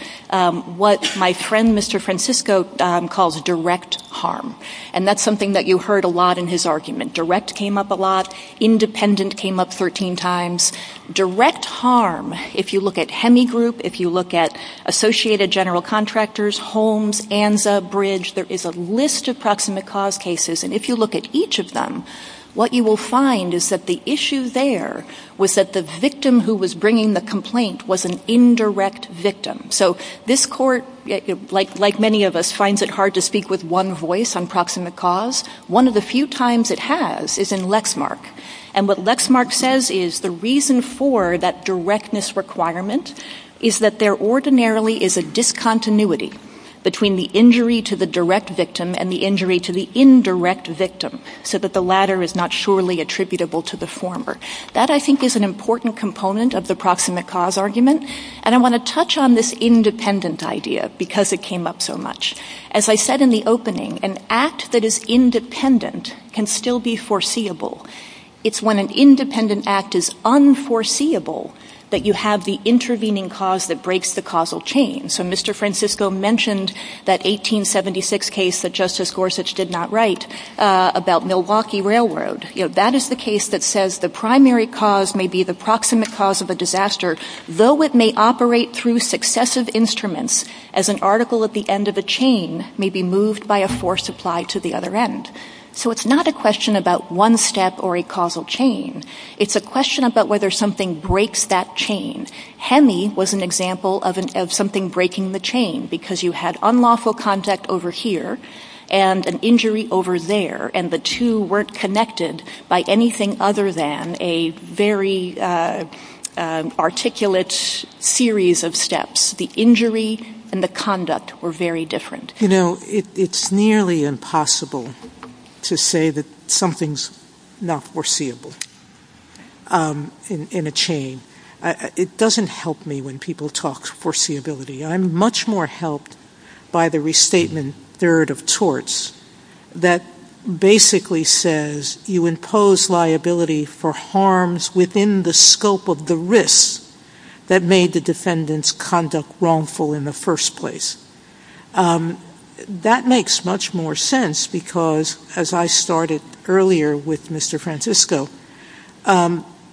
what my friend, Mr. Francisco, calls direct harm. And that's something that you heard a lot in his argument. Direct came up a lot. Independent came up 13 times. Direct harm, if you look at Hemi Group, if you look at Associated General Contractors, Holmes, Anza, Bridge, there is a list of proximate cause cases. And if you look at each of them, what you will find is that the issue there was that the victim who was bringing the complaint was an indirect victim. So, this court, like many of us, finds it hard to speak with one voice on proximate cause. One of the few times it has is in Lexmark. And what Lexmark says is the reason for that directness requirement is that there ordinarily is a discontinuity between the injury to the direct victim and the injury to the indirect victim, so that the latter is not surely attributable to the former. That, I think, is an important component of the proximate cause argument. And I want to touch on this independent idea, because it came up so much. As I said in the opening, an act that is independent can still be foreseeable. It's when an independent act is unforeseeable that you have the intervening cause that breaks the causal chain. So, Mr. Francisco mentioned that 1876 case that Justice Gorsuch did not write about Milwaukee Railroad. That is the case that says the primary cause may be the proximate cause of a disaster, though it may operate through successive instruments, as an article at the end of a chain may be moved by a force applied to the other end. So, it's not a question about one step or a causal chain. It's a question about whether something breaks that chain. Hemi was an example of something breaking the chain, because you had unlawful contact over here and an injury over there, and the two weren't connected by anything other than a very articulate series of steps. The injury and the conduct were very different. You know, it's nearly impossible to say that something's not foreseeable in a chain. It doesn't help me when people talk foreseeability. I'm much more helped by the restatement third of torts that basically says you impose liability for harms within the scope of the risk that made the defendant's conduct wrongful in the first place. That makes much more sense, because as I started earlier with Mr. Francisco,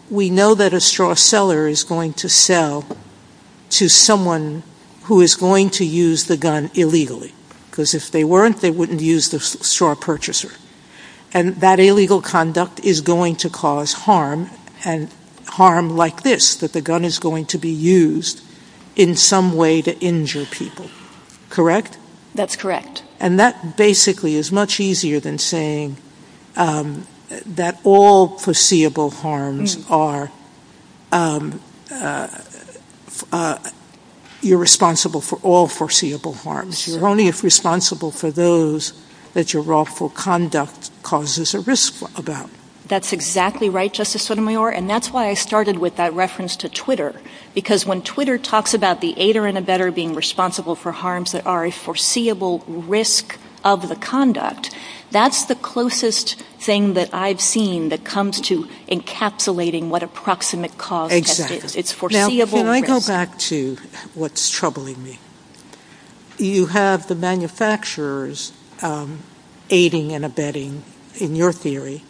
we know that a straw seller is going to sell to someone who is going to use the gun illegally, because if they weren't, they wouldn't use the straw purchaser. And that illegal conduct is going to cause harm, and harm like this, that the gun is going to be used in some way to injure people. Correct? That's correct. And that basically is much easier than saying that all foreseeable harms are, you know, you're responsible for all foreseeable harms. You're only responsible for those that your wrongful conduct causes a risk about. That's exactly right, Justice Sotomayor, and that's why I started with that reference to Twitter, because when Twitter talks about the aider and abetter being responsible for harms that are a foreseeable risk of the conduct, that's the closest thing that I've seen that comes to encapsulating what a proximate cause is. Now, can I go back to what's troubling me? You have the manufacturers aiding and abetting, in your theory,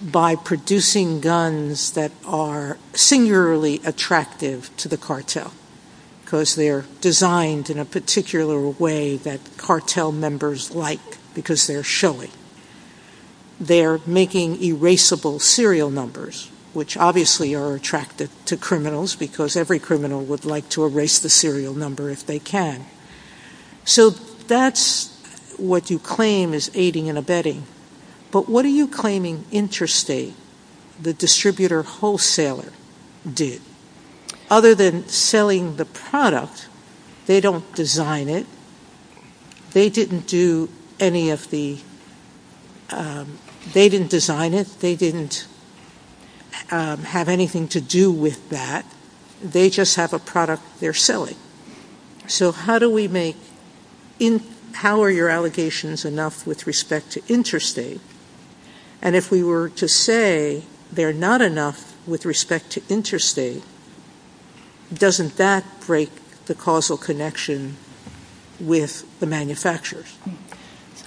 by producing guns that are singularly attractive to the cartel, because they're designed in a particular way that cartel members like, because they're showing. They're making erasable serial numbers, which obviously are attractive to criminals, because every criminal would like to erase the serial number if they can. So that's what you claim is aiding and abetting, but what are you claiming interstate, the distributor wholesaler, did? Other than selling the product, they don't design it. They didn't do any of the, they didn't design it. They didn't have anything to do with that. They just have a product they're selling. So how do we make, how are your allegations enough with respect to interstate? And if we were to say they're not enough with respect to interstate, doesn't that break the causal connection with the manufacturers?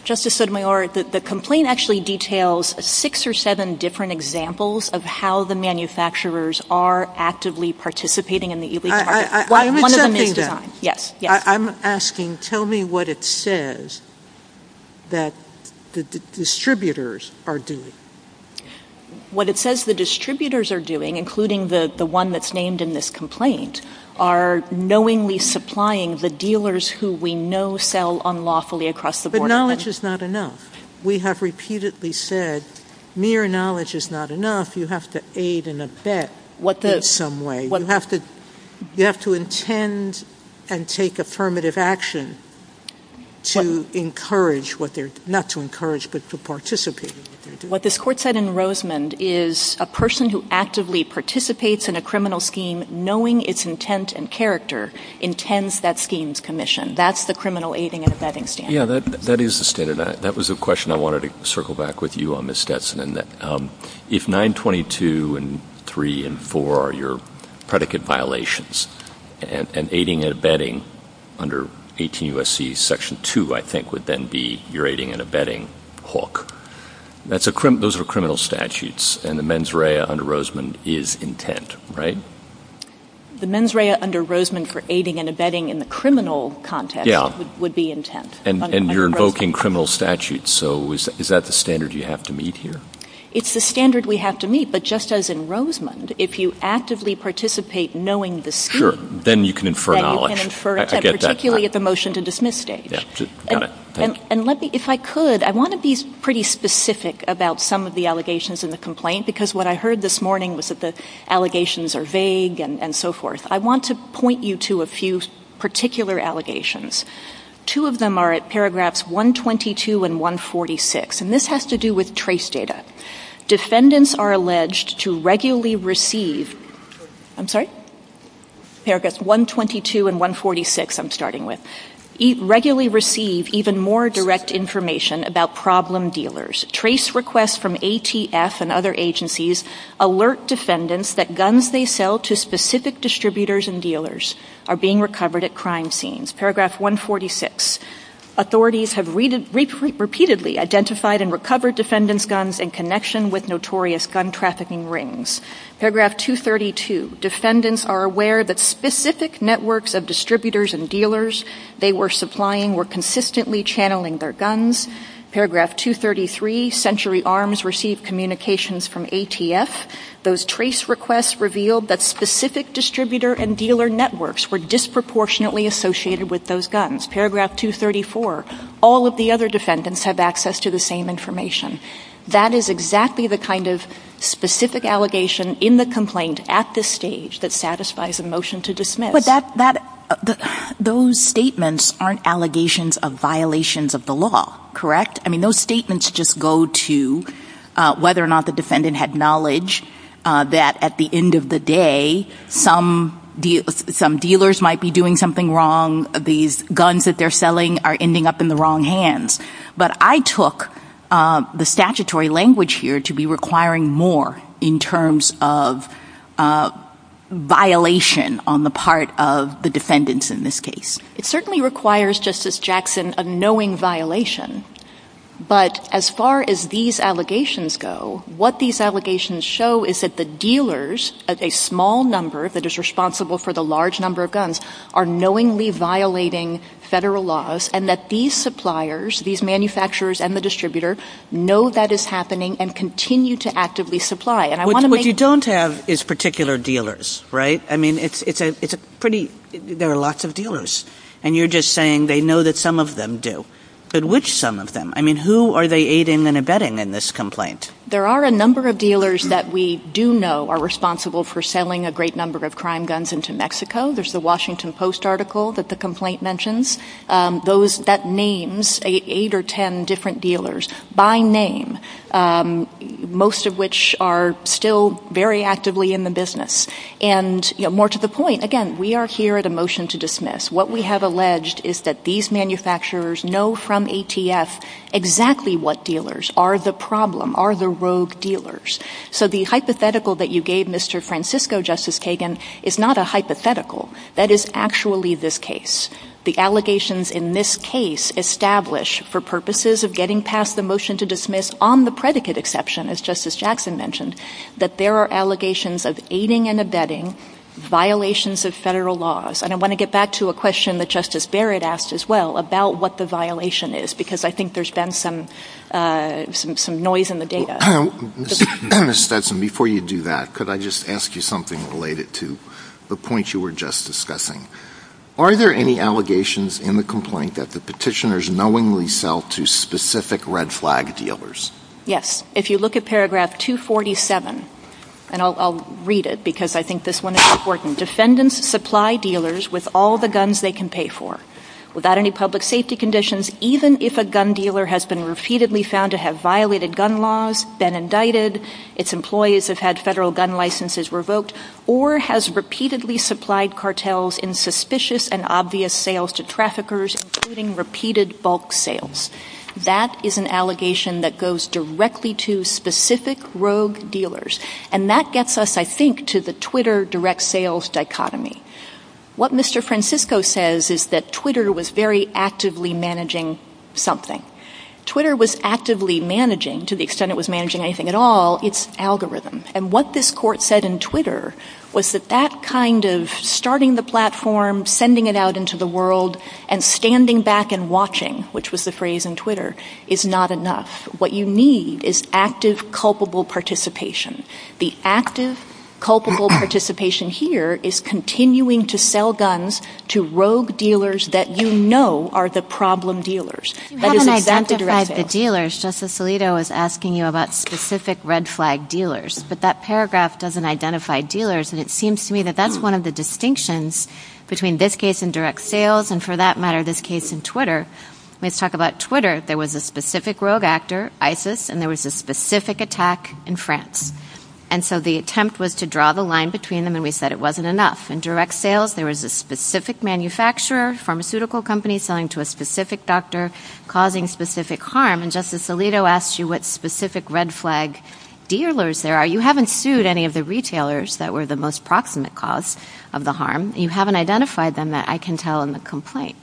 Justice Sotomayor, the complaint actually details six or seven different examples of how the manufacturers are actively participating in the illegal market. I'm accepting that. I'm asking, tell me what it says that the distributors are doing. What it says the distributors are doing, including the one that's named in this complaint, are knowingly supplying the dealers who we know sell unlawfully across the border. But knowledge is not enough. We have repeatedly said mere knowledge is not enough. You have to aid and abet in some way. You have to intend and take affirmative action to encourage what they're, not to encourage, but to participate. What this court said in Rosemond is a person who actively participates in a criminal scheme, knowing its intent and character, intends that scheme's commission. That's the criminal aiding and abetting statute. Yeah, that is the standard. That was the question I wanted to circle back with you on, Ms. Stetson. If 922 and 3 and 4 are your predicate violations, and aiding and abetting under 18 U.S.C. Section 2, I think, would then be your aiding and abetting hawk. Those are criminal statutes, and the mens rea under Rosemond is intent, right? The mens rea under Rosemond for aiding and abetting in the criminal context would be intent. And you're invoking criminal statutes, so is that the standard you have to meet here? It's the standard we have to meet, but just as in Rosemond, if you actively participate knowing the scheme, then you can infer an election. You can infer an election, particularly at the motion-to-dismiss stage. And if I could, I want to be pretty specific about some of the allegations in the complaint, because what I heard this morning was that the allegations are vague and so forth. I want to point you to a few particular allegations. Two of them are at paragraphs 122 and 146, and this has to do with trace data. Defendants are alleged to regularly receive... I'm sorry? Paragraphs 122 and 146 I'm starting with. Regularly receive even more direct information about problem dealers. Trace requests from ATF and other agencies alert defendants that guns they sell to specific distributors and dealers are being recovered at crime scenes. Paragraph 146, authorities have repeatedly identified and recovered defendants' guns in connection with notorious gun trafficking rings. Paragraph 232, defendants are aware that specific networks of distributors and dealers they were supplying were consistently channeling their guns. Paragraph 233, Century Arms received communications from ATF. Those trace requests revealed that specific distributor and dealer networks were disproportionately associated with those guns. Paragraph 234, all of the other defendants have access to the same information. That is exactly the kind of specific allegation in the complaint at this stage that satisfies a motion to dismiss. Those statements aren't allegations of violations of the law, correct? I mean, those statements just go to whether or not the defendant had knowledge that at the end of the day, some dealers might be doing something wrong, these guns that they're selling are ending up in the wrong hands. But I took the statutory language here to be requiring more in terms of violation on the part of the defendants in this case. It certainly requires, Justice Jackson, a knowing violation. But as far as these allegations go, what these allegations show is that the dealers, a small number that is responsible for the large number of guns, are knowingly violating federal laws and that these suppliers, these manufacturers and the distributor, know that it's happening and continue to actively supply. What you don't have is particular dealers, right? I mean, there are lots of dealers and you're just saying they know that some of them do. But which some of them? I mean, who are they aiding and abetting in this complaint? There are a number of dealers that we do know are responsible for selling a great number of crime guns into Mexico. There's the Washington Post article that the complaint mentions. That names eight or ten different dealers by name, most of which are still very actively in the business. And more to the point, again, we are here at a motion to dismiss. What we have alleged is that these manufacturers know from ATS exactly what dealers are the problem, are the rogue dealers. So the hypothetical that you gave Mr. Francisco, Justice Kagan, is not a hypothetical. That is actually this case. The allegations in this case establish for purposes of getting past the motion to dismiss on the predicate exception, as Justice Jackson mentioned, that there are allegations of aiding and abetting violations of federal laws. And I want to get back to a question that Justice Barrett asked as well about what the violation is, because I think there's been some noise in the data. Ms. Stetson, before you do that, could I just ask you something related to the point you were just discussing? Are there any allegations in the complaint that the petitioners knowingly sell to specific red flag dealers? Yes. If you look at paragraph 247, and I'll read it because I think this one is important. Defendants supply dealers with all the guns they can pay for without any public safety conditions, even if a gun dealer has been repeatedly found to have violated gun laws, been indicted, its employees have had federal gun licenses revoked, or has repeatedly supplied cartels in suspicious and obvious sales to traffickers, including repeated bulk sales. That is an allegation that goes directly to specific rogue dealers. And that gets us, I think, to the Twitter direct sales dichotomy. What Mr. Francisco says is that Twitter was very actively managing something. Twitter was actively managing, to the extent it was managing anything at all, its algorithms. And what this court said in Twitter was that that kind of starting the platform, sending it out into the world, and standing back and watching, which was the phrase in Twitter, is not enough. What you need is active, culpable participation. The active, culpable participation here is continuing to sell guns to rogue dealers that you know are the problem dealers. You haven't identified the dealers. Justice Alito is asking you about specific red flag dealers, but that paragraph doesn't identify dealers. And it seems to me that that's one of the distinctions between this case in direct sales, and for that matter, this case in Twitter. Let's talk about Twitter. There was a specific rogue actor, ISIS, and there was a specific attack in France. And so the attempt was to draw the line between them, and we said it wasn't enough. In direct sales, there was a specific manufacturer, pharmaceutical company selling to a specific doctor, causing specific harm. And Justice Alito asked you what specific red flag dealers there are. You haven't sued any of the retailers that were the most proximate cause of the harm. You haven't identified them that I can tell in the complaint.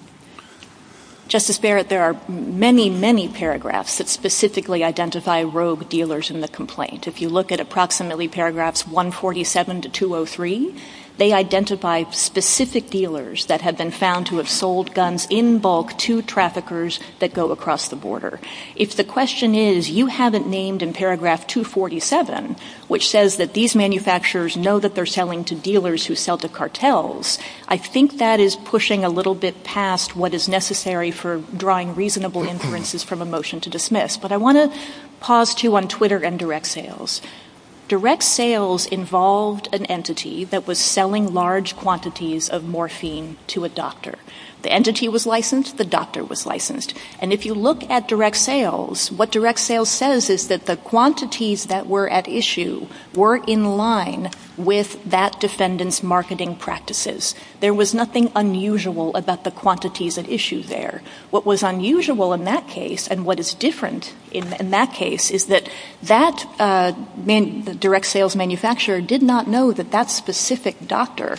Justice Barrett, there are many, many paragraphs that specifically identify rogue dealers in the complaint. If you look at approximately paragraphs 147 to 203, they identify specific dealers that have been found to have sold guns in bulk to traffickers that go across the border. If the question is, you haven't named in paragraph 247, which says that these manufacturers know that they're selling to dealers who sell to cartels, I think that is pushing a little bit past what is necessary for drawing reasonable inferences from a motion to dismiss. But I want to pause, too, on Twitter and direct sales. Direct sales involved an entity that was selling large quantities of morphine to a doctor. The entity was licensed. The doctor was licensed. And if you look at direct sales, what direct sales says is that the quantities that were at issue were in line with that defendant's marketing practices. There was nothing unusual about the quantities at issue there. What was unusual in that case and what is different in that case is that that direct sales manufacturer did not know that that specific doctor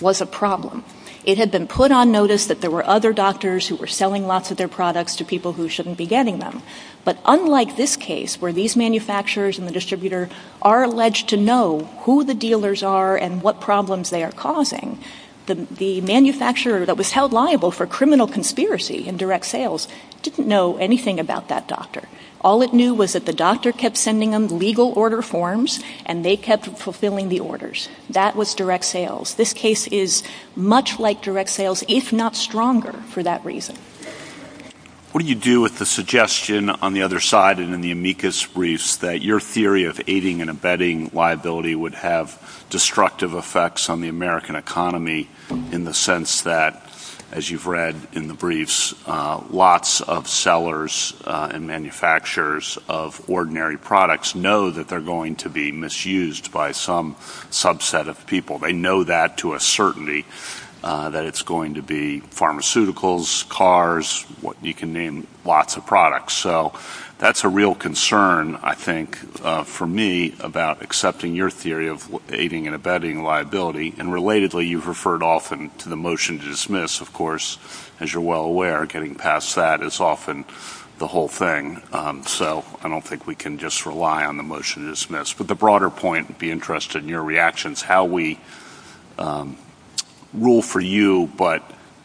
was a problem. It had been put on notice that there were other doctors who were selling lots of their products to people who shouldn't be getting them. But unlike this case, where these manufacturers and the distributor are alleged to know who the dealers are and what problems they are causing, the manufacturer that was held liable for criminal conspiracy in direct sales didn't know anything about that doctor. All it knew was that the doctor kept sending them legal order forms and they kept fulfilling the orders. That was direct sales. This case is much like direct sales, if not stronger, for that reason. What do you do with the suggestion on the other side and in the amicus briefs that your theory of aiding and abetting liability would have destructive effects on the American economy in the sense that, as you've read in the briefs, lots of sellers and manufacturers of ordinary products know that they're going to be misused by some subset of people. They know that to a certainty, that it's going to be pharmaceuticals, cars, you can name lots of products. That's a real concern, I think, for me about accepting your theory of aiding and abetting liability. Relatedly, you've referred often to the motion to dismiss. Of course, as you're well aware, getting past that is often the whole thing. I don't think we can just rely on the motion to dismiss. But the broader point, I'd be interested in your reactions, how we rule for you but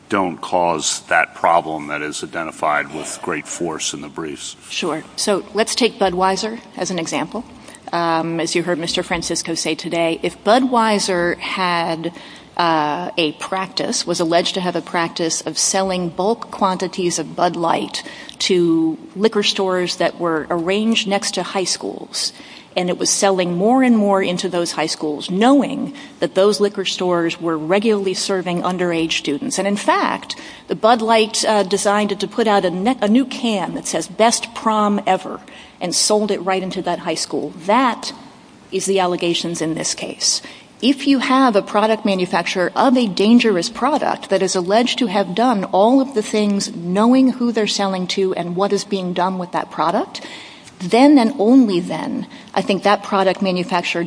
don't cause that problem that is identified with great force in the briefs. Sure. So let's take Budweiser as an example. As you heard Mr. Francisco say today, if Budweiser had a practice, was alleged to have a practice of selling bulk quantities of Bud Light to liquor stores that were arranged next to high schools and it was selling more and more into those high schools, knowing that those liquor stores were regularly serving underage students and in fact, the Bud Light designed it to put out a new can that says, best prom ever and sold it right into that high school. That is the allegations in this case. If you have a product manufacturer of a dangerous product that is alleged to have done all of the things knowing who they're selling to and what is being done with that product, then and only then, I think that product manufacturer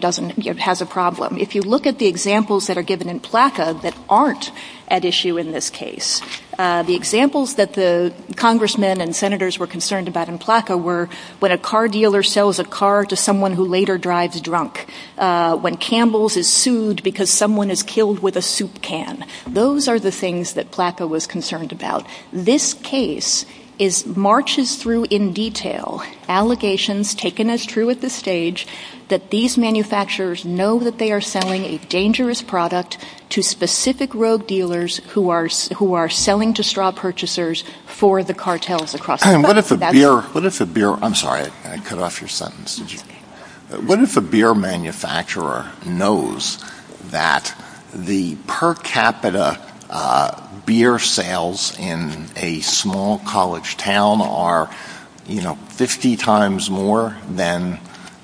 has a problem. If you look at the examples that are given in PLACA that aren't at issue in this case, the examples that the congressmen and senators were concerned about in PLACA were when a car dealer sells a car to someone who later drives drunk, when Campbell's is sued because someone is killed with a soup can. Those are the things that PLACA was concerned about. This case marches through in detail allegations taken as true at this stage that these manufacturers know that they are selling a dangerous product to specific rogue dealers who are selling to straw purchasers for the cartels across the country. What if a beer manufacturer knows that the per capita beer sales in a small college town are 50 times more than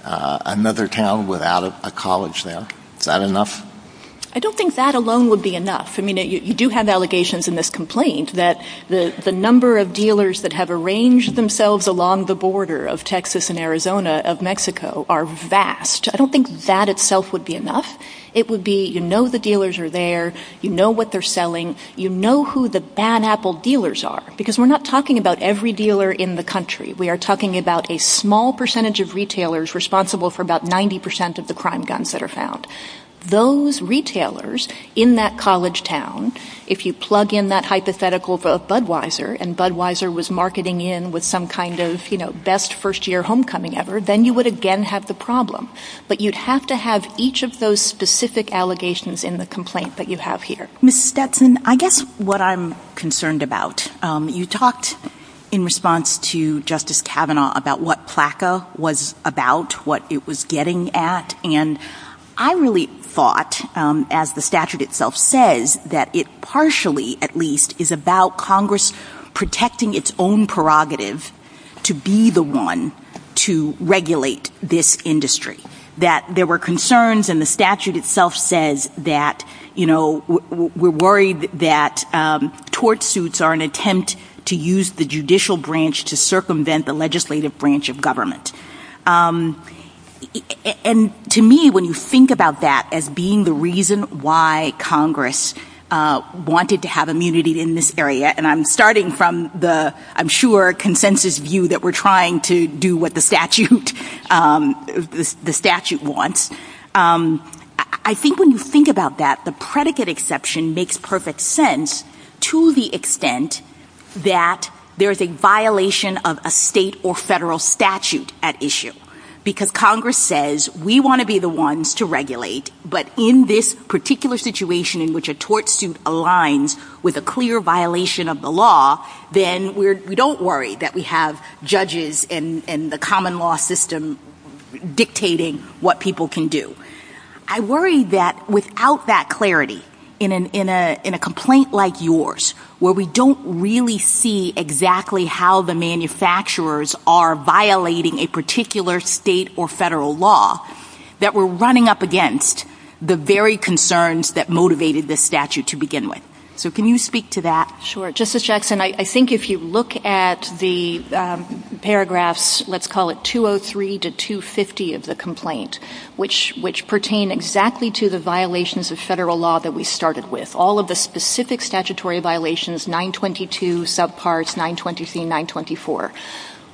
another town without a college there? Is that enough? I don't think that alone would be enough. You do have allegations in this complaint that the number of dealers that have arranged themselves along the border of Texas and Arizona of Mexico are vast. I don't think that itself would be enough. It would be you know the dealers are there, you know what they're selling, you know who the bad apple dealers are because we're not talking about every dealer in the country. We are talking about a small percentage of retailers responsible for about 90% of the crime guns that are found. Those retailers in that college town, if you plug in that hypothetical of Budweiser and Budweiser was marketing in with some kind of you know best first year homecoming ever, then you would again have the problem. But you'd have to have each of those specific allegations in the complaint that you have here. Ms. Stetson, I guess what I'm concerned about, you talked in response to Justice Kavanaugh about what PLACA was about, what it was getting at, and I really thought as the statute itself says that it partially at least is about Congress protecting its own prerogative to be the one to regulate this industry. That there were concerns and the statute itself says that you know we're worried that tort suits are an attempt to use the judicial branch to circumvent the legislative branch of government. And to me when you think about that as being the reason why Congress wanted to have immunity in this area, and I'm starting from the I'm sure consensus view that we're trying to do what the statute wants, I think when you think about that the predicate exception makes perfect sense to the extent that there's a violation of a state or federal statute at issue. Because Congress says we want to be the ones to regulate, but in this particular situation in which a tort suit aligns with a clear violation of the law, then we don't worry that we have judges and the common law system dictating what people can do. I worry that without that clarity in a complaint like yours, where we don't really see exactly how the manufacturers are violating a particular state or federal law, that we're running up against the very concerns that motivated this statute to begin with. So can you speak to that? Sure. Justice Jackson, I think if you look at the paragraphs, let's call it 203 to 250 of the complaint, which pertain exactly to the violations of federal law that we started with, all of the specific statutory violations, 922 subparts, 920C, 924.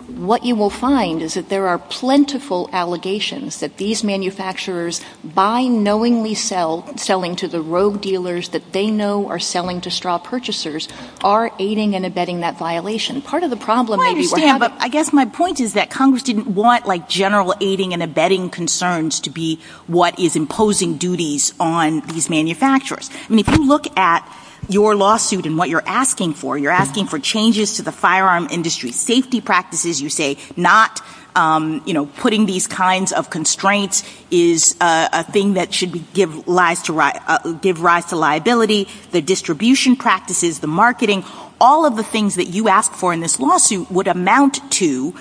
What you will find is that there are plentiful allegations that these manufacturers by knowingly selling to the rogue dealers that they know are selling to straw purchasers are aiding and abetting that violation. Part of the problem that we were having... I guess my point is that Congress didn't want like general aiding and abetting concerns to be what is imposing duties on these manufacturers. And if you look at your lawsuit and what you're asking for, you're asking for changes to the firearm industry safety practices. You say not putting these kinds of constraints is a thing that should give rise to liability, the distribution practices, the marketing, all of the things that you asked for in this lawsuit would amount to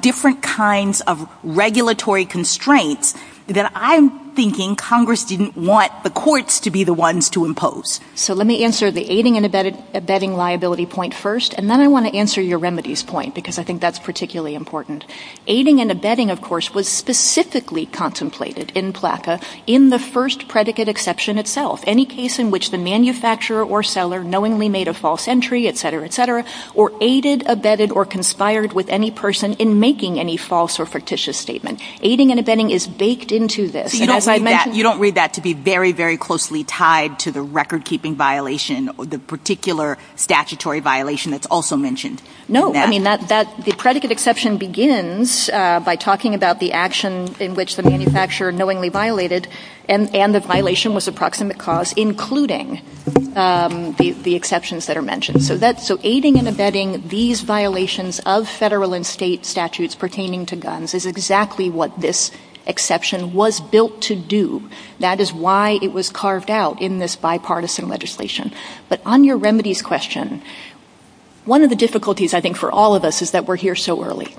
different kinds of regulatory constraints that I'm thinking Congress didn't want the courts to be the ones to impose. So let me answer the aiding and abetting liability point first, and then I want to answer your remedies point because I think that's particularly important. Aiding and abetting, of course, was specifically contemplated in PLACA in the first predicate exception itself. Any case in which the manufacturer or seller knowingly made a false entry, et cetera, et cetera, or aided, abetted, or conspired with any person in making any false or fictitious statement. Aiding and abetting is baked into this. You don't read that to be very, very closely tied to the record keeping violation, the particular statutory violation that's also mentioned. No. I mean, the predicate exception begins by talking about the action in which the manufacturer knowingly violated and the violation was a proximate cause, including the exceptions that are mentioned. So aiding and abetting these violations of federal and state statutes pertaining to guns is exactly what this exception was built to do. That is why it was carved out in this bipartisan legislation. But on your remedies question, one of the difficulties, I think, for all of us is that we're here so early.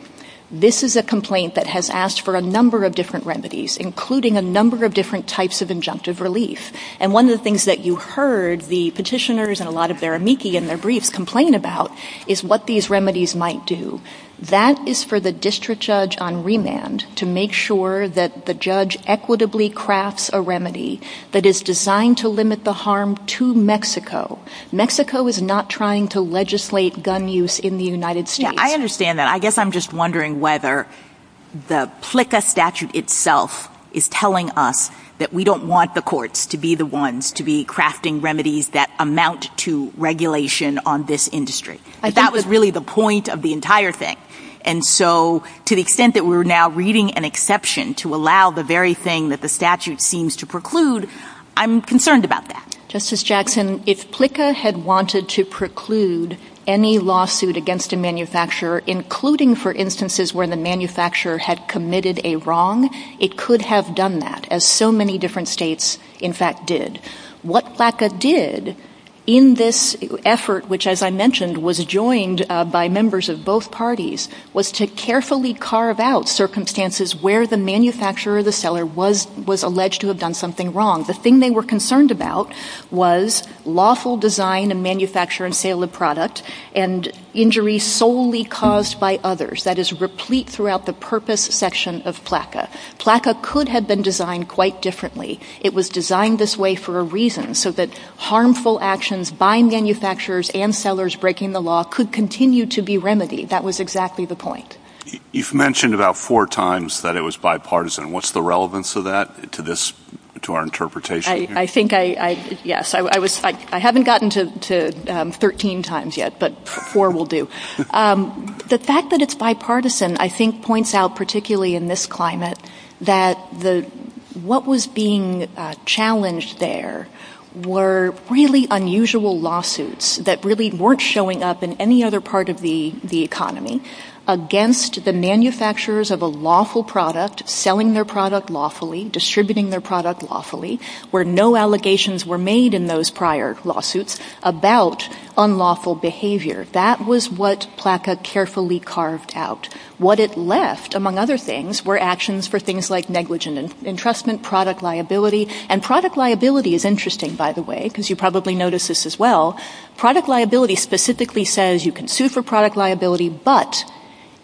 This is a complaint that has asked for a number of different remedies, including a number of different types of injunctive relief. And one of the things that you heard the petitioners and a lot of their amici in their briefs complain about is what these remedies might do. That is for the district judge on remand to make sure that the judge equitably crafts a remedy that is designed to limit the harm to Mexico. Mexico is not trying to legislate gun use in the United States. I understand that. I guess I'm just wondering whether the PLCA statute itself is telling us that we don't want the courts to be the ones to be crafting remedies that amount to regulation on this industry. That was really the point of the entire thing. And so to the extent that we're now reading an exception to allow the very thing that the statute seems to preclude, I'm concerned about that. Justice Jackson, if PLCA had wanted to preclude any lawsuit against a manufacturer, including for instances where the manufacturer had committed a wrong, it could have done that, as so many different states, in fact, did. What PLCA did in this effort, which, as I mentioned, was joined by members of both parties, was to carefully carve out circumstances where the manufacturer or the seller was alleged to have done something wrong. The thing they were concerned about was lawful design and manufacture and sale of product and injuries solely caused by others. That is replete throughout the purpose section of PLCA. PLCA could have been designed quite differently. It was designed this way for a reason, so that harmful actions by manufacturers and sellers breaking the law could continue to be remedied. That was exactly the point. You've mentioned about four times that it was bipartisan. What's the relevance of that to our interpretation? I haven't gotten to 13 times yet, but four will do. The fact that it's bipartisan points out, particularly in this climate, that what was being challenged there were really unusual lawsuits that really weren't showing up in any other part of the economy against the manufacturers of a lawful product, selling their product lawfully, distributing their product lawfully, where no allegations were made in those prior lawsuits about unlawful behavior. That was what PLCA carefully carved out. What it left, among other things, were actions for things like negligent entrustment, product liability. Product liability is interesting, by the way, because you probably noticed this as well. Product liability specifically says you can sue for product liability, but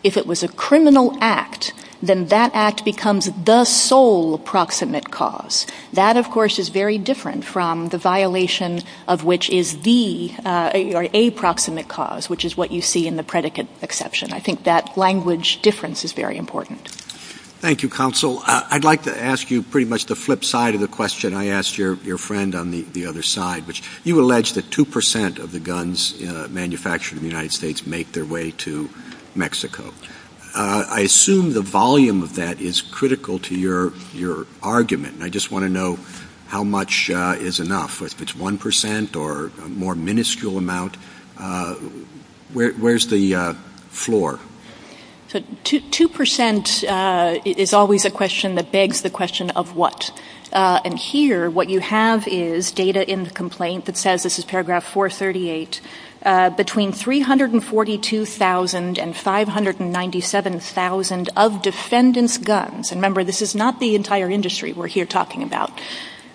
if it was a criminal act, then that act becomes the sole proximate cause. That, of course, is very different from the violation of which is the aproximate cause, which is what you see in the predicate exception. I think that language difference is very important. Thank you, Counsel. I'd like to ask you pretty much the flip side of the question I asked your friend on the other side, which you allege that 2% of the guns manufactured in the United States are made in Mexico. I assume the volume of that is critical to your argument. I just want to know how much is enough, if it's 1% or a more miniscule amount. Where's the floor? 2% is always a question that begs the question of what. Here, what you have is data in the United States. You have 697,000 of defendants' guns. Remember, this is not the entire industry we're here talking about.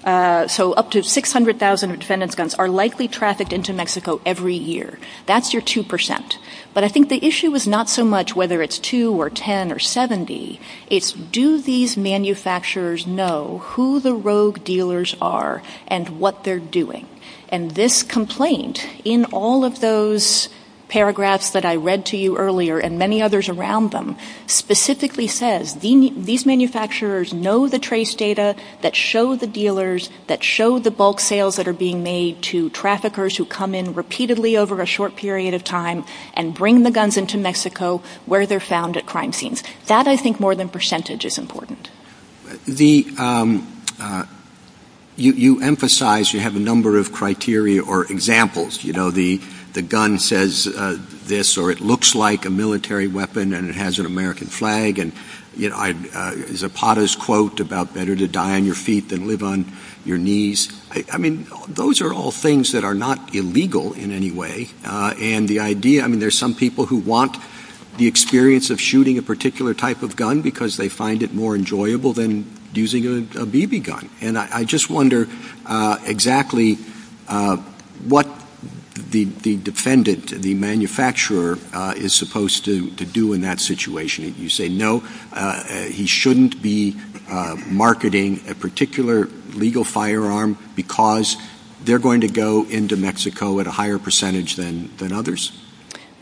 Up to 600,000 defendants' guns are likely trafficked into Mexico every year. That's your 2%. I think the issue is not so much whether it's 2 or 10 or 70. It's do these manufacturers know who the rogue dealers are and what they're doing. This complaint in all of those paragraphs that I read to you earlier and many others around them specifically says these manufacturers know the trace data that show the dealers, that show the bulk sales that are being made to traffickers who come in repeatedly over a short period of time and bring the guns into Mexico where they're found at crime scenes. That, I think, more than percentage is important. You emphasize, you have a number of criteria or examples. The gun says this or it looks like a military weapon and it has an American flag. Zapata's quote about better to die on your feet than live on your knees. I mean, those are all things that are not illegal in any way. There's some people who want the experience of shooting a particular type of gun because they find it more enjoyable than using a BB gun. And I just wonder exactly what the defendant, the manufacturer, is supposed to do in that situation. You say no, he shouldn't be marketing a particular legal firearm because they're going to go into Mexico at a higher percentage than others?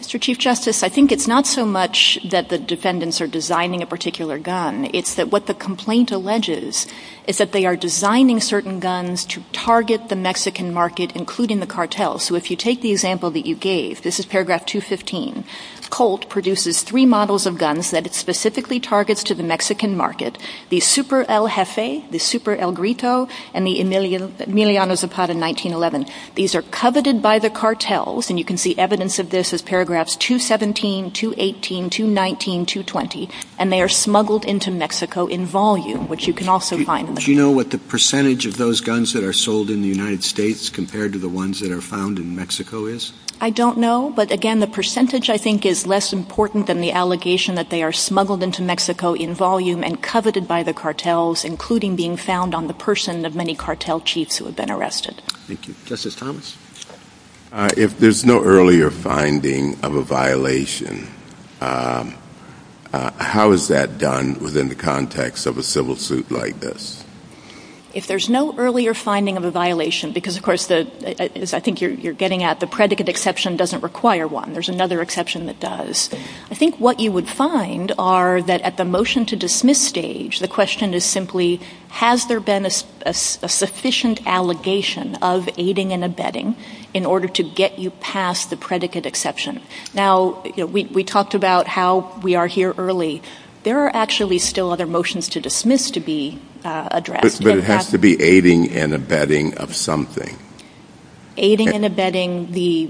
Mr. Chief Justice, I think it's not so much that the defendants are designing a particular gun. It's that what the complaint alleges is that they are designing certain guns to target the Mexican market, including the cartels. So if you take the example that you gave, this is paragraph 215, Colt produces three models of guns that it specifically targets to the Mexican market. The Super El Jefe, the Super El Grito, and the Emiliano Zapata in 1911. These are coveted by the cartels, and you can see evidence of this as paragraphs 217, 218, 219, 220, and they are smuggled into Mexico in volume, which you can also find. Do you know what the percentage of those guns that are sold in the United States compared to the ones that are found in Mexico is? I don't know, but again, the percentage, I think, is less important than the allegation that they are smuggled into Mexico in volume and coveted by the cartels, including being found on the person of many cartel chiefs who have been arrested. Thank you. Justice Thomas? If there's no earlier finding of a violation, how is that done within the context of a civil suit like this? If there's no earlier finding of a violation, because of course, as I think you're getting at, the predicate exception doesn't require one. There's another exception that does. I think what you would find are that at the motion to dismiss stage, the question is simply, has there been a sufficient allegation of aiding and abetting in order to get you past the predicate exception? Now, we talked about how we are here early. There are actually still other motions to dismiss to be addressed. But it has to be aiding and abetting of something. Aiding and abetting the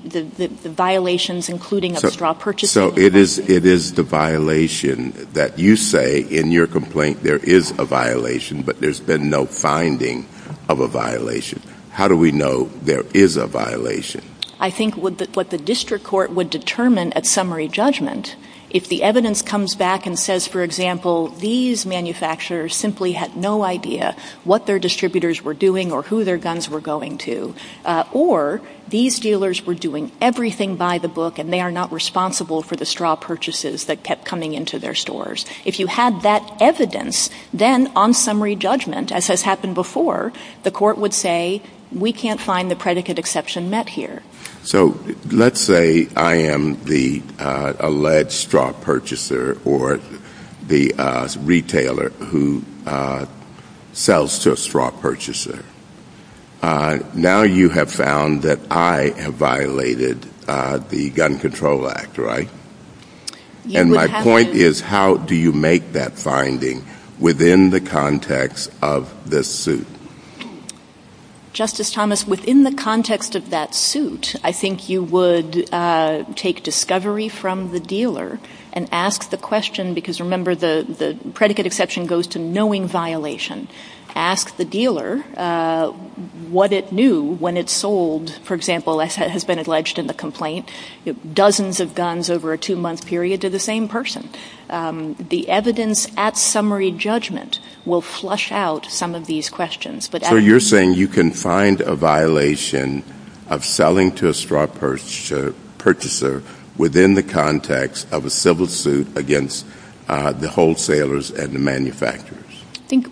violations, including of straw purchases. So it is the violation that you say in your complaint, there is a violation, but there's been no finding of a violation. How do we know there is a violation? I think what the district court would determine at summary judgment, if the evidence comes back and says, for example, these manufacturers simply had no idea what their distributors were doing or who their guns were going to, or these dealers were doing everything by the book and they are not responsible for the straw purchases that kept coming into their stores. If you had that evidence, then on summary judgment, as has happened before, the court would say, we can't find the predicate exception met here. So let's say I am the alleged straw purchaser or the retailer who sells to a straw purchaser. Now you have found that I have violated the Gun Control Act, right? And my point is, how do you make that finding within the context of this suit? Justice Thomas, within the context of that suit, I think you would take discovery from the dealer and ask the question, because remember, the predicate exception goes to knowing violation. Ask the dealer what it knew when it sold, for example, as has been alleged in the complaint, dozens of guns over a two-month period to the same person. The evidence at summary judgment will flush out some of these questions. So you are saying you can find a violation of selling to a straw purchaser within the context of a civil suit against the wholesalers and the manufacturers? I think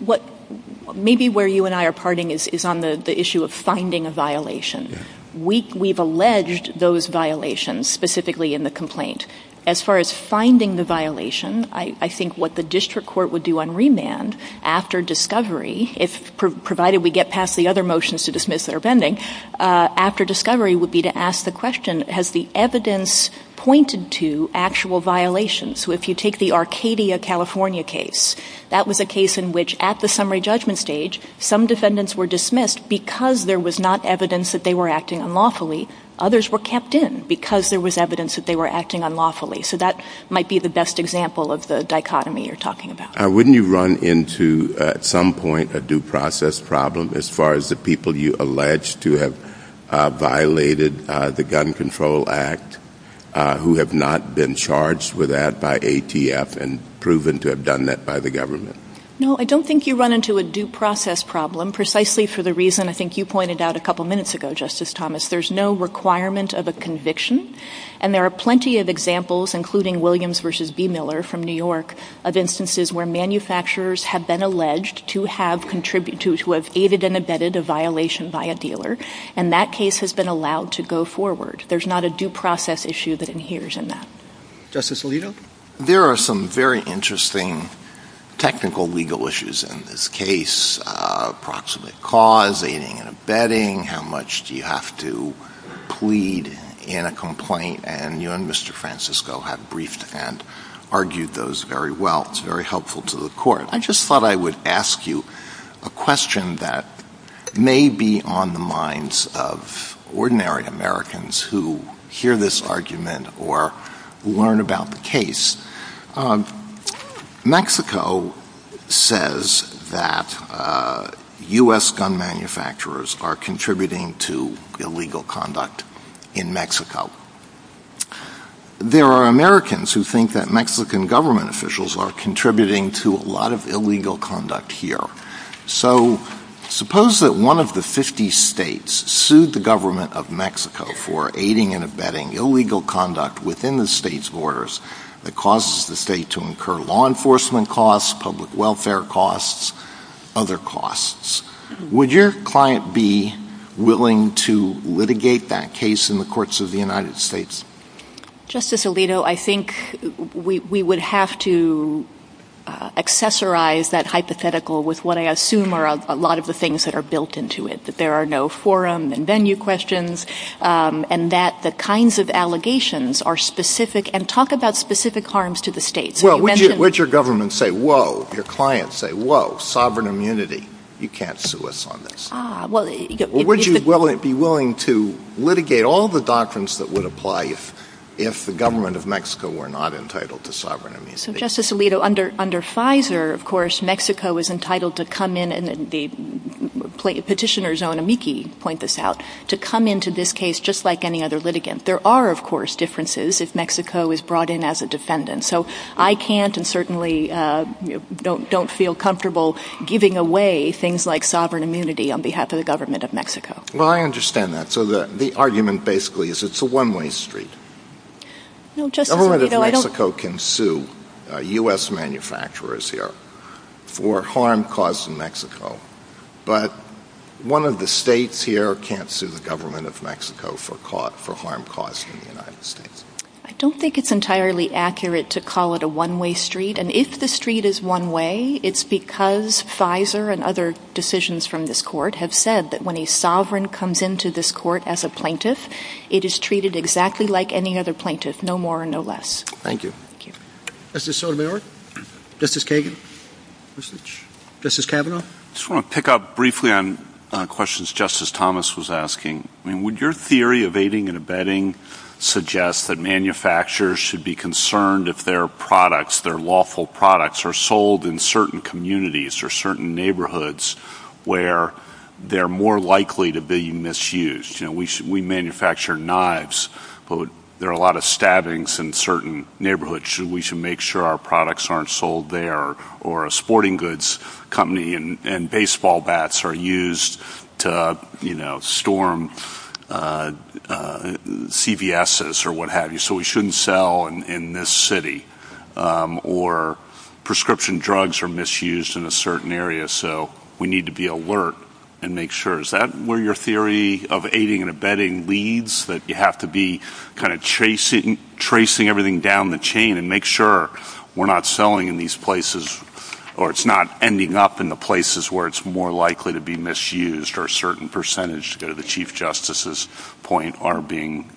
maybe where you and I are parting is on the issue of finding a violation. We've alleged those violations, specifically in the complaint. As far as finding the violation, I think what the district court would do on remand after discovery, provided we get past the other motions to dismiss that are pending, after discovery would be to ask the question, has the evidence pointed to actual violations? If you take the Arcadia, California case, that was a case in which at the summary judgment stage, some defendants were dismissed because there was not evidence that they were acting unlawfully. Others were kept in because there was evidence that they were acting unlawfully. So that might be the best example of the dichotomy you're talking about. Wouldn't you run into at some point a due process problem as far as the people you allege to have violated the Gun Control Act who have not been charged with that by ATF and proven to have done that by the government? No, I don't think you run into a due process problem precisely for the reason I think you pointed out a couple minutes ago, Justice Thomas. There's no requirement of a conviction. And there are plenty of examples, including Williams v. B. Miller from New York, of instances where manufacturers have been alleged to have contributed, to have aided and abetted a violation by a dealer. And that case has been allowed to go forward. There's not a due process issue that inheres in that. Justice Alito? There are some very interesting technical legal issues in this case. Approximate cause, aiding and abetting, how much do you have to plead in a complaint. And you and Mr. Francisco have briefed and argued those very well. It's very helpful to the court. I just thought I would ask you a question that may be on the minds of ordinary Americans who hear this argument or learn about the case. Mexico says that U.S. gun manufacturers are contributing to illegal conduct in Mexico. There are Americans who think that Mexican government officials are contributing to a lot of illegal conduct here. So suppose that one of the 50 states sued the government of Mexico for aiding and abetting illegal conduct within the state's borders that causes the state to incur law enforcement costs, public welfare costs, other costs. Would your client be willing to litigate that case in the courts of the United States? Justice Alito, I think we would have to accessorize that hypothetical with what I assume are a lot of the things that are built into it, that there are no forum and venue questions and that the kinds of allegations are specific. And talk about specific harms to the states. Would your client say, whoa, sovereign immunity, you can't sue us on this? Or would you be willing to litigate all the documents that would apply if the government of Mexico were not entitled to sovereign immunity? Justice Alito, under Pfizer, of course, Mexico is entitled to come in and the petitioners on amici point this out, to come into this case just like any other litigant. There are, of course, differences if Mexico is brought in as a defendant. So I can't and certainly don't feel comfortable giving away things like sovereign immunity on behalf of the government of Mexico. Well, I understand that. So the argument basically is it's a one-way street. The government of Mexico can sue U.S. manufacturers here for harm caused in Mexico, but one of the states here can't sue the government of Mexico for harm caused in the United States. I don't think it's entirely accurate to call it a one-way street. And if the street is one way, it's because Pfizer and other decisions from this court have said that when a sovereign comes into this court as a plaintiff, it is treated exactly like any other plaintiff, no more and no less. Thank you. Thank you. Justice Sotomayor? Justice Kagan? Justice Kavanaugh? I just want to pick up briefly on questions Justice Thomas was asking. Would your theory of aiding and abetting suggest that manufacturers should be concerned if their products, their lawful products, are sold in certain communities or certain neighborhoods where they're more likely to be misused? We manufacture knives, but there are a lot of stabbings in certain neighborhoods. We should make sure our products aren't sold there or a sporting goods company and baseball bats are used to storm CVSs or what have you, so we shouldn't sell in this city. Or prescription drugs are misused in a certain area, so we need to be alert and make sure. Is that where your theory of aiding and abetting leads, that you have to be kind of tracing everything down the chain and make sure we're not selling in these places or it's not ending up in the places where it's more likely to be misused or a certain percentage, to go to the Chief Justice's point, are being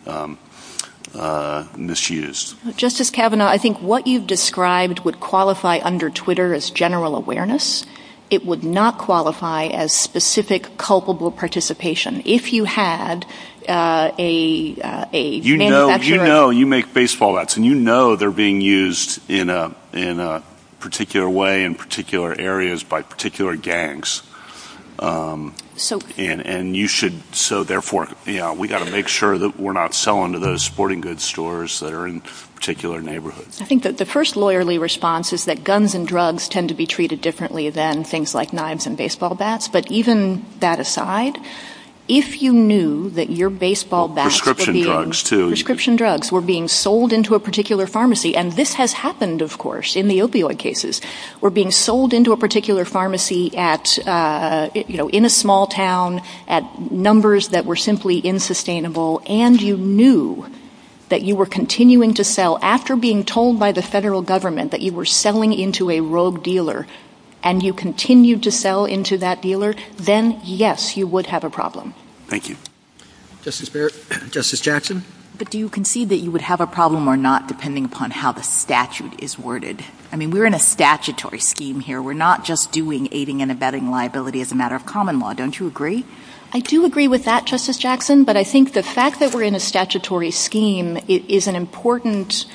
misused? Justice Kavanaugh, I think what you've described would qualify under Twitter as general awareness. It would not qualify as specific culpable participation. If you had a manufacturer... You know, you make baseball bats and you know they're being used in a particular way in particular areas by particular gangs and you should... So therefore, you know, we've got to make sure that we're not selling to those sporting goods stores that are in particular neighborhoods. I think that the first lawyerly response is that guns and drugs tend to be treated differently than things like knives and baseball bats, but even that aside, if you knew that your baseball bats were being sold into a particular pharmacy and this has happened, of course, in the opioid cases, were being sold into a particular pharmacy at, you know, in a small town at numbers that were simply insustainable and you knew that you were continuing to sell after being told by the federal government that you were selling into a rogue dealer and you continued to sell into that dealer, then yes, you would have a problem. Thank you. Justice Barrett. Justice Jackson. But do you concede that you would have a problem or not depending upon how the statute is worded? I mean, we're in a statutory scheme here. We're not just doing aiding and abetting liability as a matter of common law. Don't you agree? I do agree with that, Justice Jackson, but I think the fact that we're in a statutory scheme is an important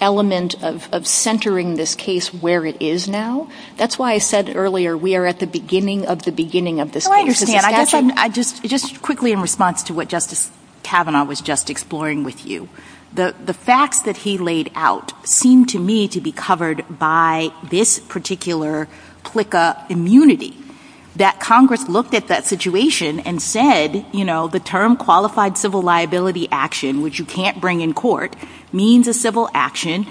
element of centering this case where it is now. That's why I said earlier, we are at the beginning of the beginning of the... Oh, I understand. I just... Just quickly in response to what Justice Kavanaugh was just exploring with you, the facts that he laid out seemed to me to be covered by this particular PLCA immunity. That Congress looked at that situation and said, the term qualified civil liability action, which you can't bring in court, means a civil action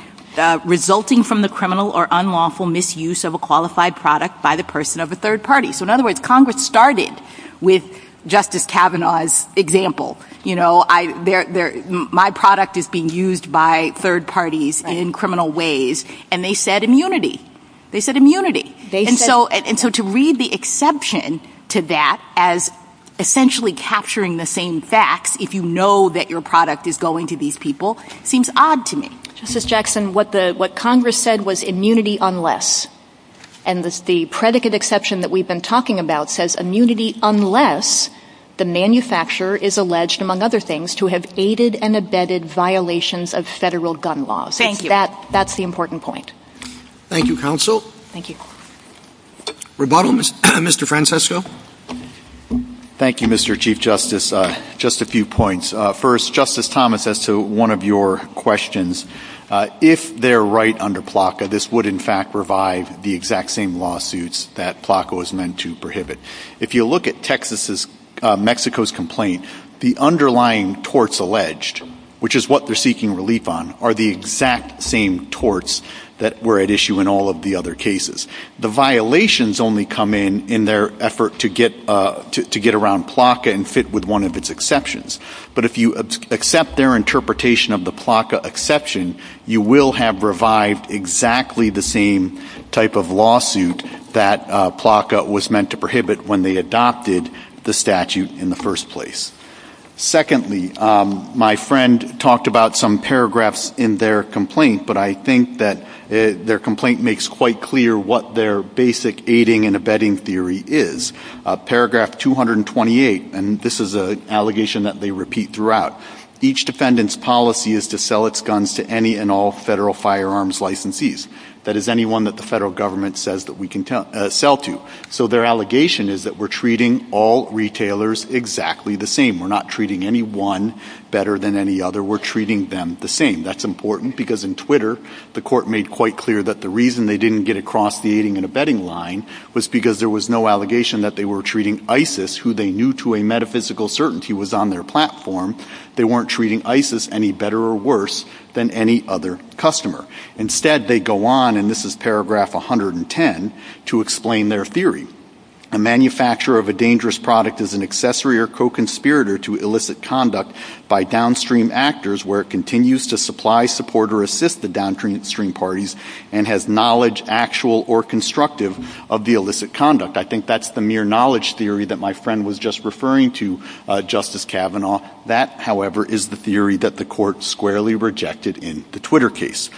resulting from the criminal or unlawful misuse of a qualified product by the person of a third party. So in other words, Congress started with Justice Kavanaugh's example. You know, my product is being used by third parties in criminal ways, and they said immunity. They said immunity. They said... And so to read the exception to that as essentially capturing the same facts, if you know that your product is going to these people, seems odd to me. Justice Jackson, what Congress said was immunity unless, and the predicate exception that we've been talking about says immunity unless the manufacturer is alleged, among other things, to have aided and abetted violations of federal gun laws. Thank you. That's the important point. Thank you, counsel. Thank you. Rebuttal, Mr. Francesco? Thank you, Mr. Chief Justice. Just a few points. First, Justice Thomas, as to one of your questions, if they're right under PLCA, this would in fact be the exact same lawsuits that PLCA was meant to prohibit. If you look at Texas's, Mexico's complaint, the underlying torts alleged, which is what they're seeking relief on, are the exact same torts that were at issue in all of the other cases. The violations only come in in their effort to get around PLCA and fit with one of its exceptions. But if you accept their interpretation of the PLCA exception, you will have revived exactly the same type of lawsuit that PLCA was meant to prohibit when they adopted the statute in the first place. Secondly, my friend talked about some paragraphs in their complaint, but I think that their complaint makes quite clear what their basic aiding and abetting theory is. Paragraph 228, and this is an allegation that they repeat throughout, each defendant's policy is to sell its guns to any and all federal firearms licensees. That is anyone that the federal government says that we can sell to. So their allegation is that we're treating all retailers exactly the same. We're not treating any one better than any other. We're treating them the same. That's important because in Twitter, the court made quite clear that the reason they didn't get across the aiding and abetting line was because there was no allegation that they were treating ISIS, who they knew to a metaphysical certainty was on their platform. They weren't treating ISIS any better or worse than any other customer. Instead, they go on, and this is paragraph 110, to explain their theory. A manufacturer of a dangerous product is an accessory or co-conspirator to illicit conduct by downstream actors where it continues to supply, support, or assist the downstream parties and has knowledge actual or constructive of the illicit conduct. I think that's the mere knowledge theory that my friend was just referring to, Justice Kavanaugh. That, however, is the theory that the court squarely rejected in the Twitter case.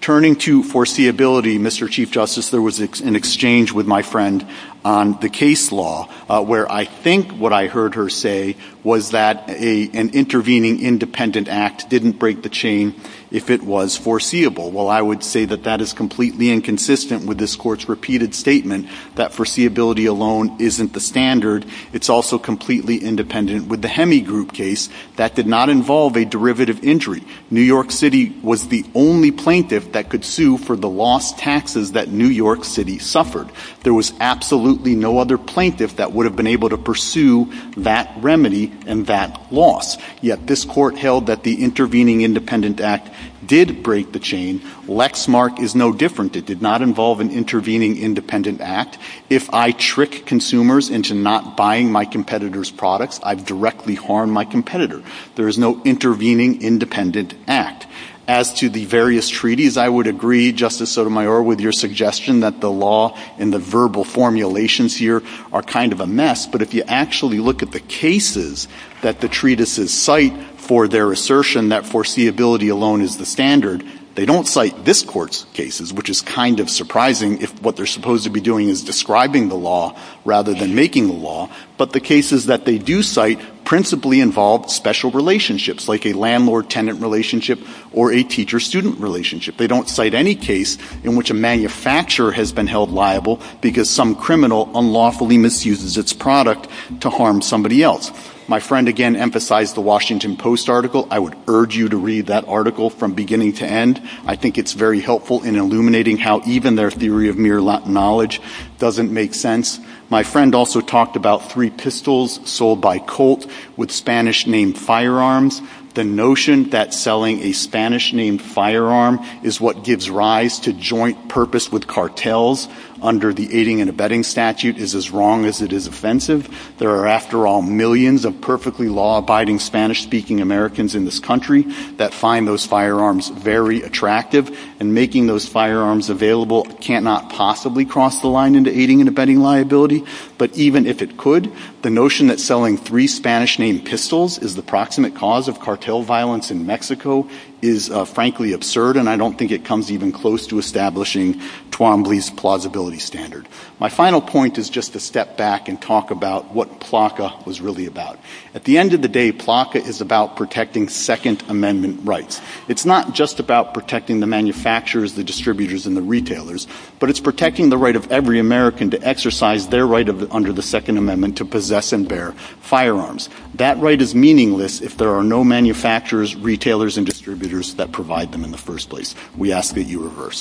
Turning to foreseeability, Mr. Chief Justice, there was an exchange with my friend on the case law where I think what I heard her say was that an intervening independent act didn't break the chain if it was foreseeable. Well, I would say that that is completely inconsistent with this court's repeated statement that foreseeability alone isn't the standard. It's also completely independent. With the Hemi Group case, that did not involve a derivative injury. New York City was the only plaintiff that could sue for the lost taxes that New York City suffered. There was absolutely no other plaintiff that would have been able to pursue that remedy and that loss, yet this court held that the intervening independent act did break the chain. Lexmark is no different. It did not involve an intervening independent act. If I trick consumers into not buying my competitor's products, I've directly harmed my competitor. There's no intervening independent act. As to the various treaties, I would agree, Justice Sotomayor, with your suggestion that the law and the verbal formulations here are kind of a mess, but if you actually look at the cases that the treatises cite for their assertion that foreseeability alone is the standard, they don't cite this court's cases, which is kind of surprising if what they're supposed to be doing is describing the law rather than making the law, but the cases that they do cite principally involve special relationships, like a landlord-tenant relationship or a teacher-student relationship. They don't cite any case in which a manufacturer has been held liable because some criminal unlawfully misuses its product to harm somebody else. My friend, again, emphasized the Washington Post article. I would urge you to read that article from beginning to end. I think it's very helpful in illuminating how even their theory of mere knowledge doesn't make sense. My friend also talked about three pistols sold by Colt with Spanish-named firearms. The notion that selling a Spanish-named firearm is what gives rise to joint purpose with cartels under the aiding and abetting statute is as wrong as it is offensive. There are, after all, millions of perfectly law-abiding Spanish-speaking Americans in this country that find those firearms very attractive, and making those firearms available cannot possibly cross the line into aiding and abetting liability. But even if it could, the notion that selling three Spanish-named pistols is the proximate cause of cartel violence in Mexico is, frankly, absurd, and I don't think it comes even close to establishing Twombly's plausibility standard. My final point is just to step back and talk about what PLACA was really about. At the end of the day, PLACA is about protecting Second Amendment rights. It's not just about protecting the manufacturers, the distributors, and the retailers, but it's protecting the right of every American to exercise their right under the Second Amendment to possess and bear firearms. That right is meaningless if there are no manufacturers, retailers, and distributors that provide them in the first place. We ask that you reverse.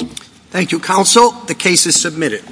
Thank you, Counsel. The case is submitted.